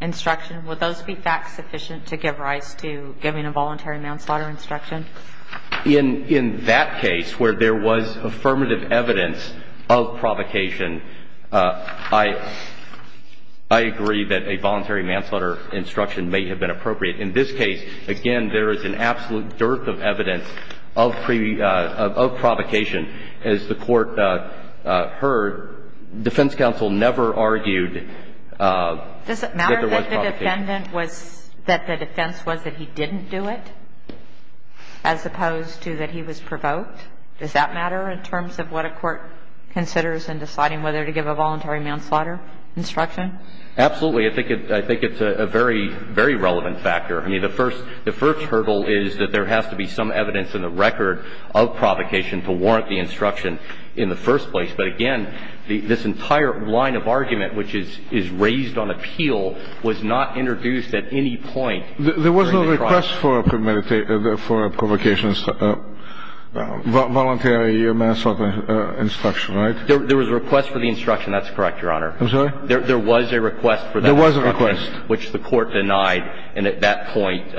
instruction would those be facts sufficient to give rise to giving a voluntary manslaughter instruction in that case where there was affirmative evidence of provocation I I agree that a voluntary manslaughter instruction may have been appropriate in this case again there is an absolute dearth of evidence of provocation as the court heard defense counsel never argued does it matter that the defendant was that the defense was that he didn't do it as opposed to that he was provoked does that matter in terms of what a court considers in deciding whether to give a voluntary manslaughter instruction absolutely I think it's a very relevant factor the first hurdle is that there has to be some evidence in the record of provocation to warrant the instruction in the first place but again this entire line of argument which is raised on appeal was not introduced at any point there was no request for provocations voluntary manslaughter instruction right there was a request for the instruction that's correct your honor there was a request which the court denied and at that point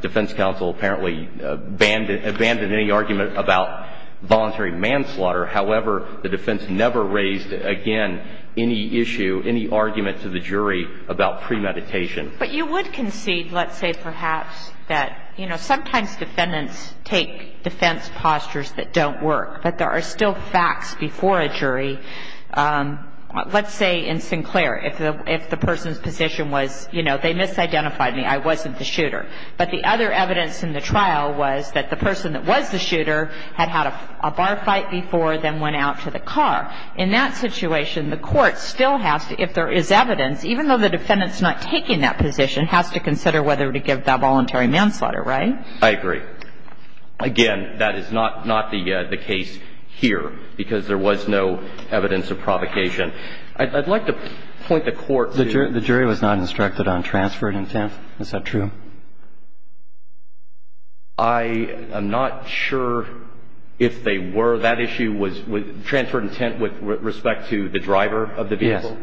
defense counsel apparently abandoned any argument about voluntary manslaughter however the defense never raised again any issue any argument to the jury about premeditation but you would concede let's say perhaps that you know sometimes defendants take defense postures that don't work but there are still facts before a jury let's say in our fight before then went out to the car in that situation the court still has to if there is evidence even though the defendants not taking that position has to consider whether to give that voluntary manslaughter right I agree again that is not not the case here because there was no evidence of provocation I'd like to point the court the jury was not instructed on transferred intent is that true I am not sure if they were that issue was transferred intent with respect to the driver of the vehicle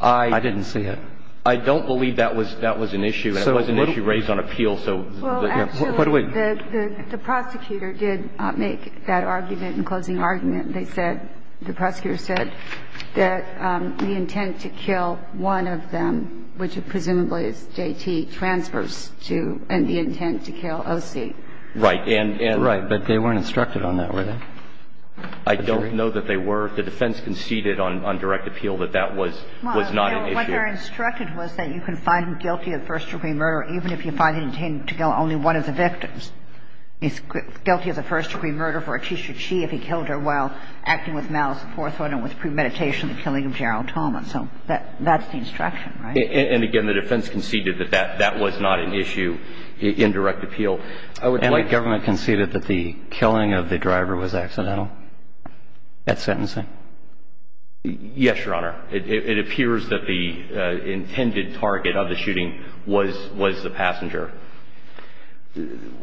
I didn't see it I don't believe that was an issue it was an issue raised on appeal the prosecutor did make that argument closing argument the prosecutor said that the intent to kill one of them which presumably is JT transfers to and the intent to kill OC right but they weren't instructed on that were they I don't know that they were the defense conceded on direct appeal that that was not an issue what they were instructed was that you can find him guilty of first-degree murder even if you find him guilty of first-degree murder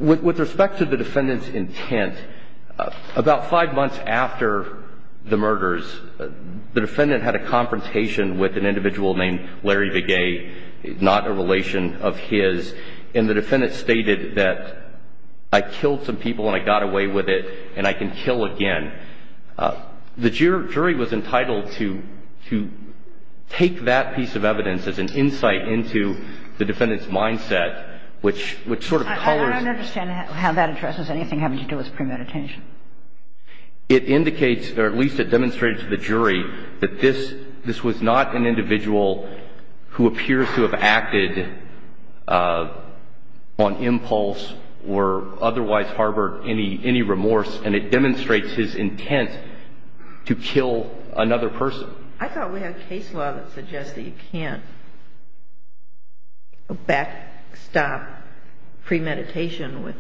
with respect to the defendant's intent about five months after the murders the defendant had a confrontation with an individual named Larry Begay not a relation of his and the defendant stated that I killed some people and I got away with it and I can kill again the jury was entitled to take that piece of evidence as an insight into the defendant's mindset which sort of I don't understand how that addresses anything having to do with premeditation it indicates or at least demonstrated to the jury guilty of first-degree murder with respect to his intent to kill another person I thought we had a case law that suggests that you can't back stop premeditation with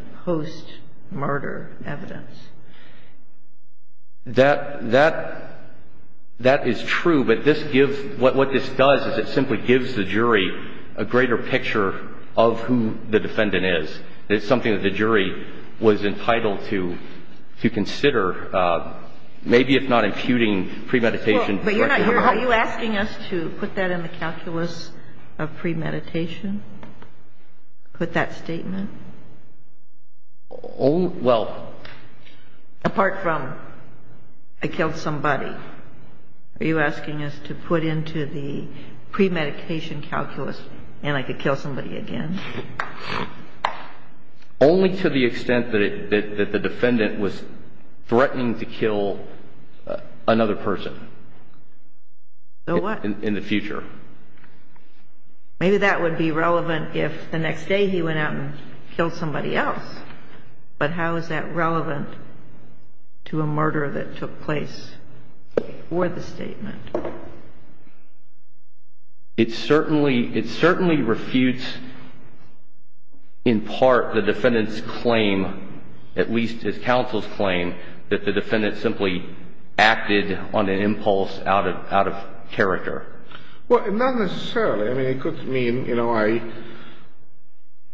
a greater picture of who the defendant is it's something that the jury was entitled to consider maybe if not imputing premeditation are you asking us to put that in the calculus of premeditation put that statement well apart from I killed somebody are you asking us to put into the premeditation calculus and I could kill somebody again only to the extent that the defendant was threatening to kill another person in the future maybe that would be relevant if the next day he went out and killed somebody else but how is that relevant to a murder that took place or the statement it certainly it certainly refutes in part the defendant's claim at least his counsel's claim that the defendant simply acted on an impulse out of out of character well not necessarily I mean it could mean you know I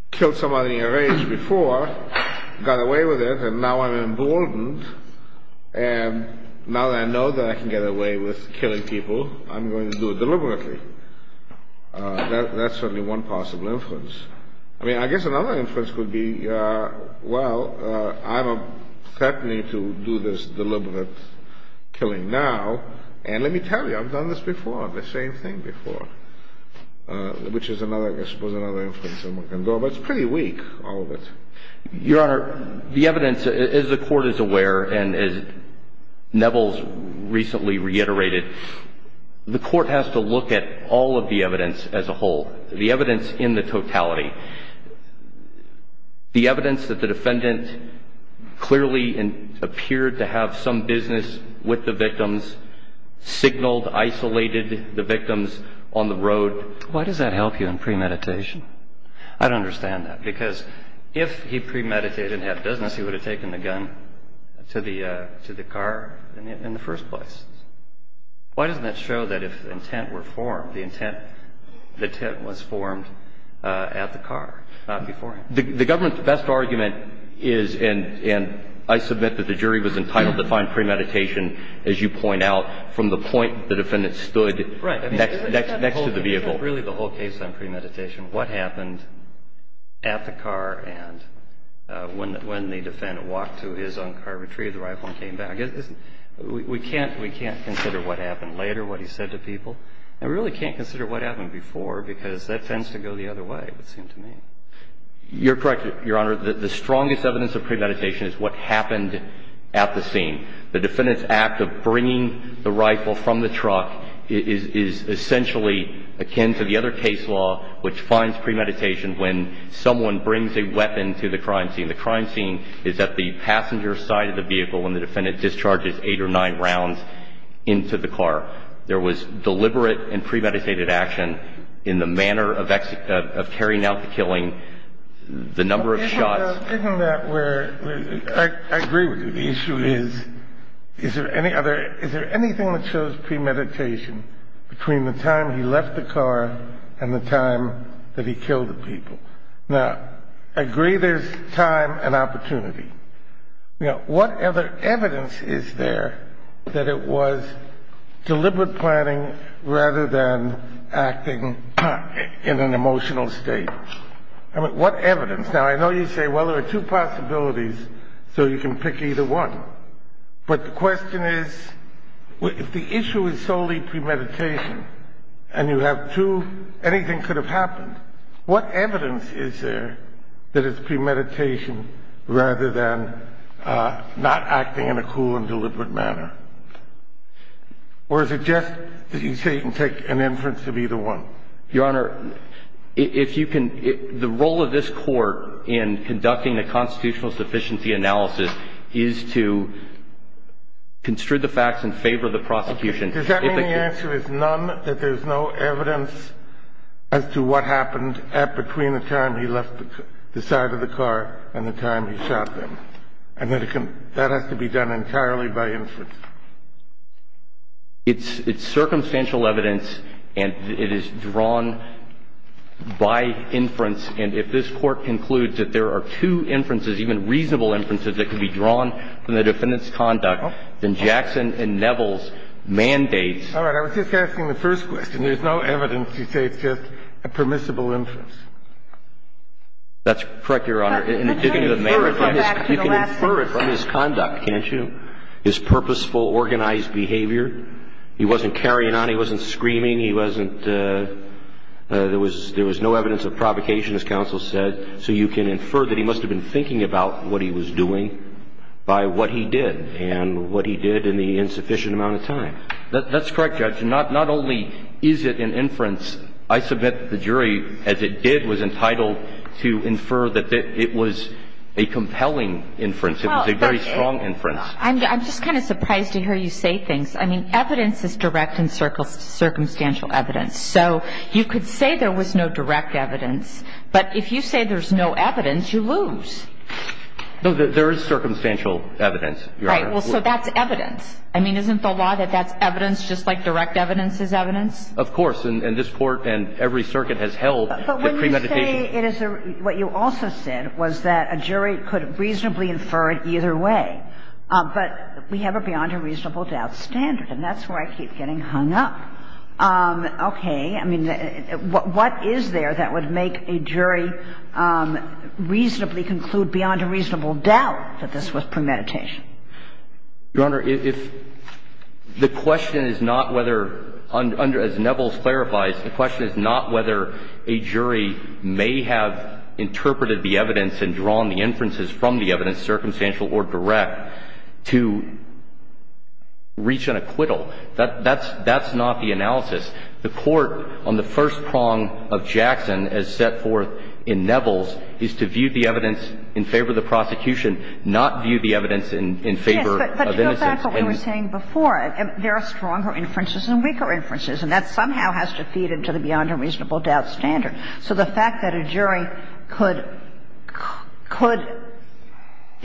killed somebody in a rage before got away with it and now I'm emboldened and now that I know that I can get away with killing people I'm going to do it deliberately that's certainly one possible inference I mean I guess another inference could be well I'm threatening to do this deliberate killing now and let me tell you I've done this before the same thing before which is another I suppose another inference but it's pretty weak all of it Your Honor the evidence as the court is aware and as Neville's recently reiterated the court has to look at all of the evidence as a whole the evidence in the totality the evidence that the defendant clearly appeared to have some business with the victims signaled isolated the victims on the road Why does that help you in premeditation? I don't understand that because if he premeditated and had business he would have taken the gun to the car in the first place. Why doesn't that show that if intent were formed the intent was formed at the car not before The government's best argument is and I submit that the jury was entitled to find premeditation as you point out from the point the defendant stood between the time he left the car and the time that he killed the people. Now, I agree there's time and opportunity. You know, what other evidence is there that it was deliberate planning rather than acting in an emotional state? I mean, what evidence? Now, I know you say, well, there are two possibilities so you can pick either one. But the question is, if the issue is solely premeditation and you have two anything could have happened, what evidence is there that it's premeditation rather than not acting in a cool and deliberate manner? Or is it just that you say you can take an inference of either one? Your Honor, if you can, the role of this court in conducting a constitutional sufficiency analysis is to construe the facts in favor of the prosecution. Does that mean the answer is none, that there's no evidence as to what happened at between the time he left the side of the car and the time he shot them? And that has to be done entirely by inference? It's circumstantial evidence, and it is drawn by inference, and if this Court concludes that there are two inferences, even reasonable inferences, that can be drawn from the defendant's conduct, then Jackson and Neville's mandate All right. I was just asking the first question. There's no evidence to say it's just a permissible inference. That's correct, Your Honor. You can infer it from his conduct, can't you? His purposeful organized behavior. He wasn't carrying on. He wasn't doing what he did in the insufficient amount of time. That's correct, Judge. Not only is it an inference, I submit the jury, as it did, was entitled to infer that it was a compelling inference. It was a very strong inference. I'm just kind of surprised to hear you say things. I mean, evidence is direct and circumstantial evidence. So you could say there was no direct evidence, but if you say there's no evidence, you lose. No, there is circumstantial evidence, Your Honor. Right. So that's evidence. Isn't the law that that's evidence just like direct evidence is evidence? Of course. And this Court and every circuit has held that premeditation But when you say it is what you also said was that a jury could reasonably infer it either way, but we beyond a reasonable doubt standard, and that's where I keep getting hung up. Okay. I mean, what is there that would make a jury reasonably conclude beyond a reasonable doubt that this was premeditation? Your Honor, if the question is not whether as Neville clarifies, the question is not whether a jury may have interpreted the evidence and drawn the inferences from the evidence, circumstantial or direct, to reach an acquittal. That's not the analysis. The court on the first prong of Jackson as set forth in Neville's is to view the evidence in favor of the prosecution, not view the evidence in favor of innocence. But to go back to what we were saying before, there are stronger inferences and weaker inferences, and that somehow has to feed into the beyond a reasonable doubt standard. So the fact that a jury could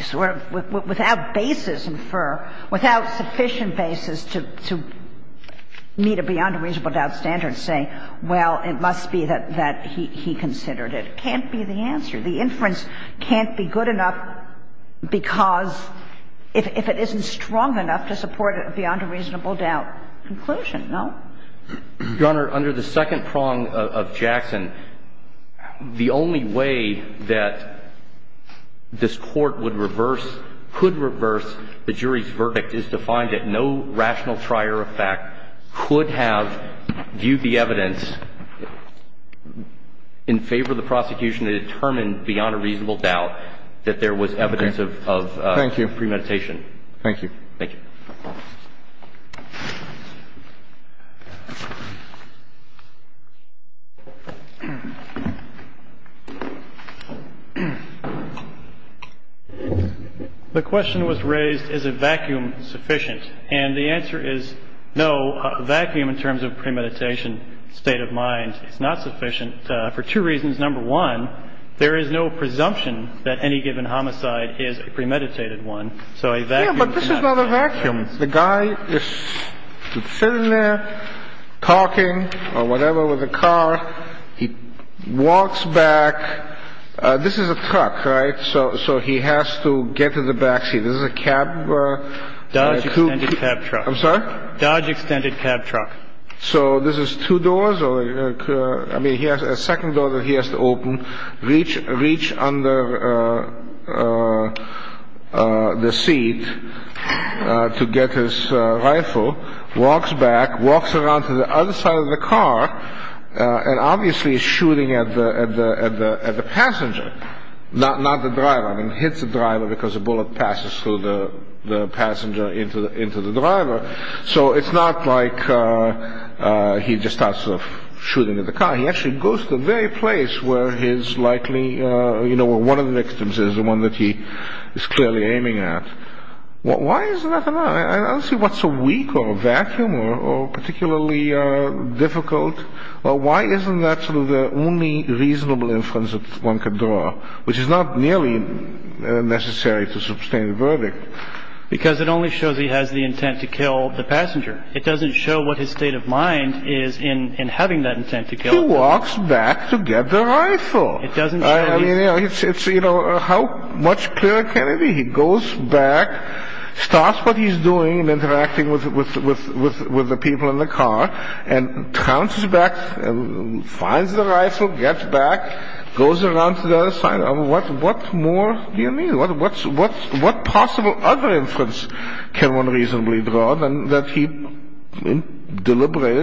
sort of without basis infer, without sufficient basis to meet a beyond a reasonable doubt standard saying, well, it must be that he considered it, can't be the answer. The inference can't be good enough because if it isn't strong enough to support a beyond a reasonable doubt conclusion, no? Your Honor, under the second prong of Jackson, the only way that this Court would reverse could reverse the jury's verdict is to find that no rational prior effect could have viewed the evidence in favor of the prosecution to determine beyond a reasonable doubt that there was evidence of premeditation. Thank you. Thank you. The question is a vacuum sufficient? And the answer is no. A vacuum in terms of premeditation state of mind is not sufficient to determine a reasonable doubt that premeditation. of premeditation state of mind is not sufficient for two reasons. Number one, there is no presumption that any given homicide is a Number presumption crime. Number three, there is no presumption that any given homicide is a crime. Number four, there is no presumption that any given is a crime. Number six, there is no presumption that any given homicide is a crime. Number seven, there is no presumption that any given homicide is a crime. Number eight, the re is no presumption that a given homicide is a crime. This is a possible case. This is a children's case. This is a children's case. is a possible case. Number the that a given homicide is a crime. This is a children's case. This is a children's case. Number 10, a job in the basement. Go to the basement, work the gun locker, load the bullets, walk back up and shoot him. At that point you premeditate it. Isn't this very much like that case? No. But I can make it like this case. Let's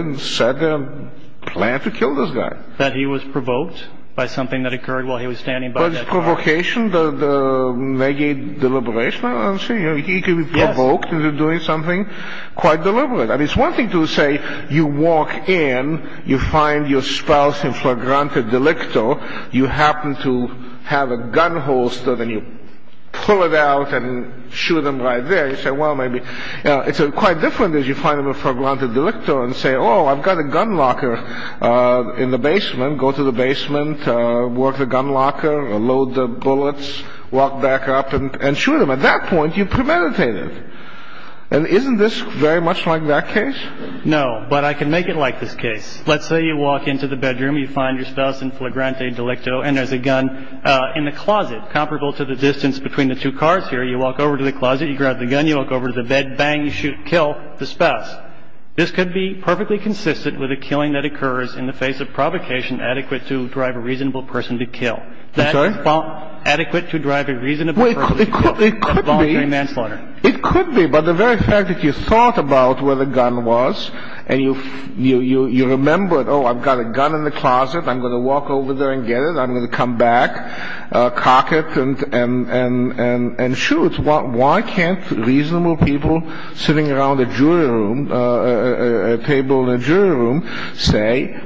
say you find your spouse and there's a gun in the closet comparable to the distance between the two cars. This could be perfectly consistent with a killing that occurs in the face of provocation adequate to drive a reasonable person to kill. Adequate to drive a reasonable person to kill. evidence that he planned it, why can't reasonable people sitting around a table in a jury room say,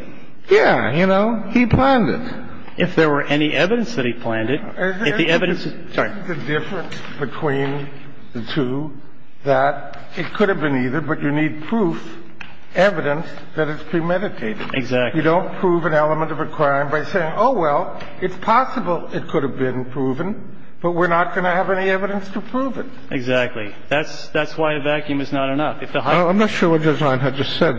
yeah, you know, he planned it? If there were any evidence that he planned it, if the evidence is there. Isn't the difference between the two that it could have been either, but you need proof, evidence, that it's premeditated. You don't prove an element of a crime by saying, oh, well, it's possible it could have been proven, but we're not going to have any evidence to prove it. That's why a vacuum is not enough. I'm not sure what Judge Reinhart just said.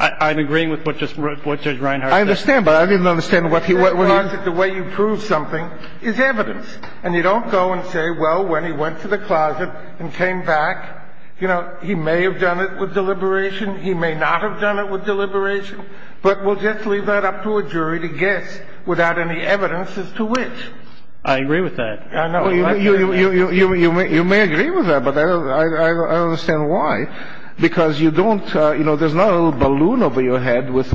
I'm agreeing with what Judge Reinhart said. I understand, but I didn't understand what he said. The way you prove something is evidence, and you don't go and say, oh, it could have been proven. You may agree with that, but I don't understand why, because there's not a little balloon over your head with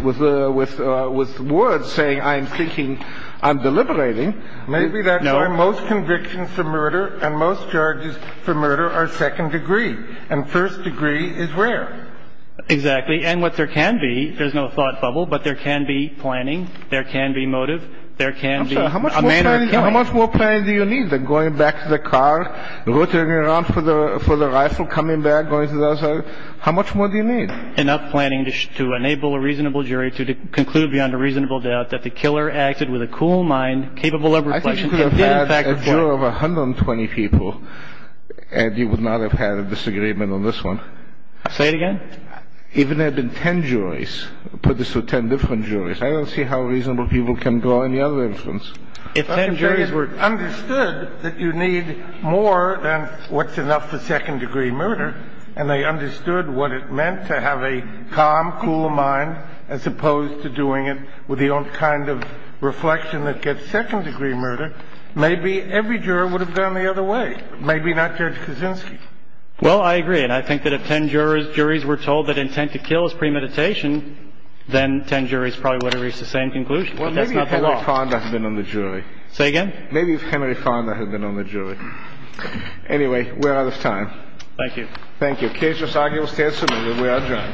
words saying, I'm thinking, I'm deliberating. Maybe that's why most convictions for murder and most charges for murder are second degree, and first degree is rare. Exactly. And what there can be, there's no thought bubble, but there can be planning, there can be motive, there can be a manner of killing. I'm sorry, how much more planning do you need than going to the second degree murder trial? I don't see how reasonable people can draw any other inference. juries were understood that you need more than what's enough for second degree murder, and they understood what it meant to have a calm, not cool mind, as opposed to doing it with the kind of reflection that gets second degree murder, maybe every juror would have gone the other way, maybe not Judge Kaczynski. Well, I agree, and I think that if ten jurors were told that intent to kill is premeditation, then ten jurors would have reached the same but that's not the law. Well, maybe if Henry Fonda had been on the jury. Say again? Maybe if Henry Fonda had been on the jury. Anyway, we're out of time. Thank you. Thank you. Case resolved. We are adjourned.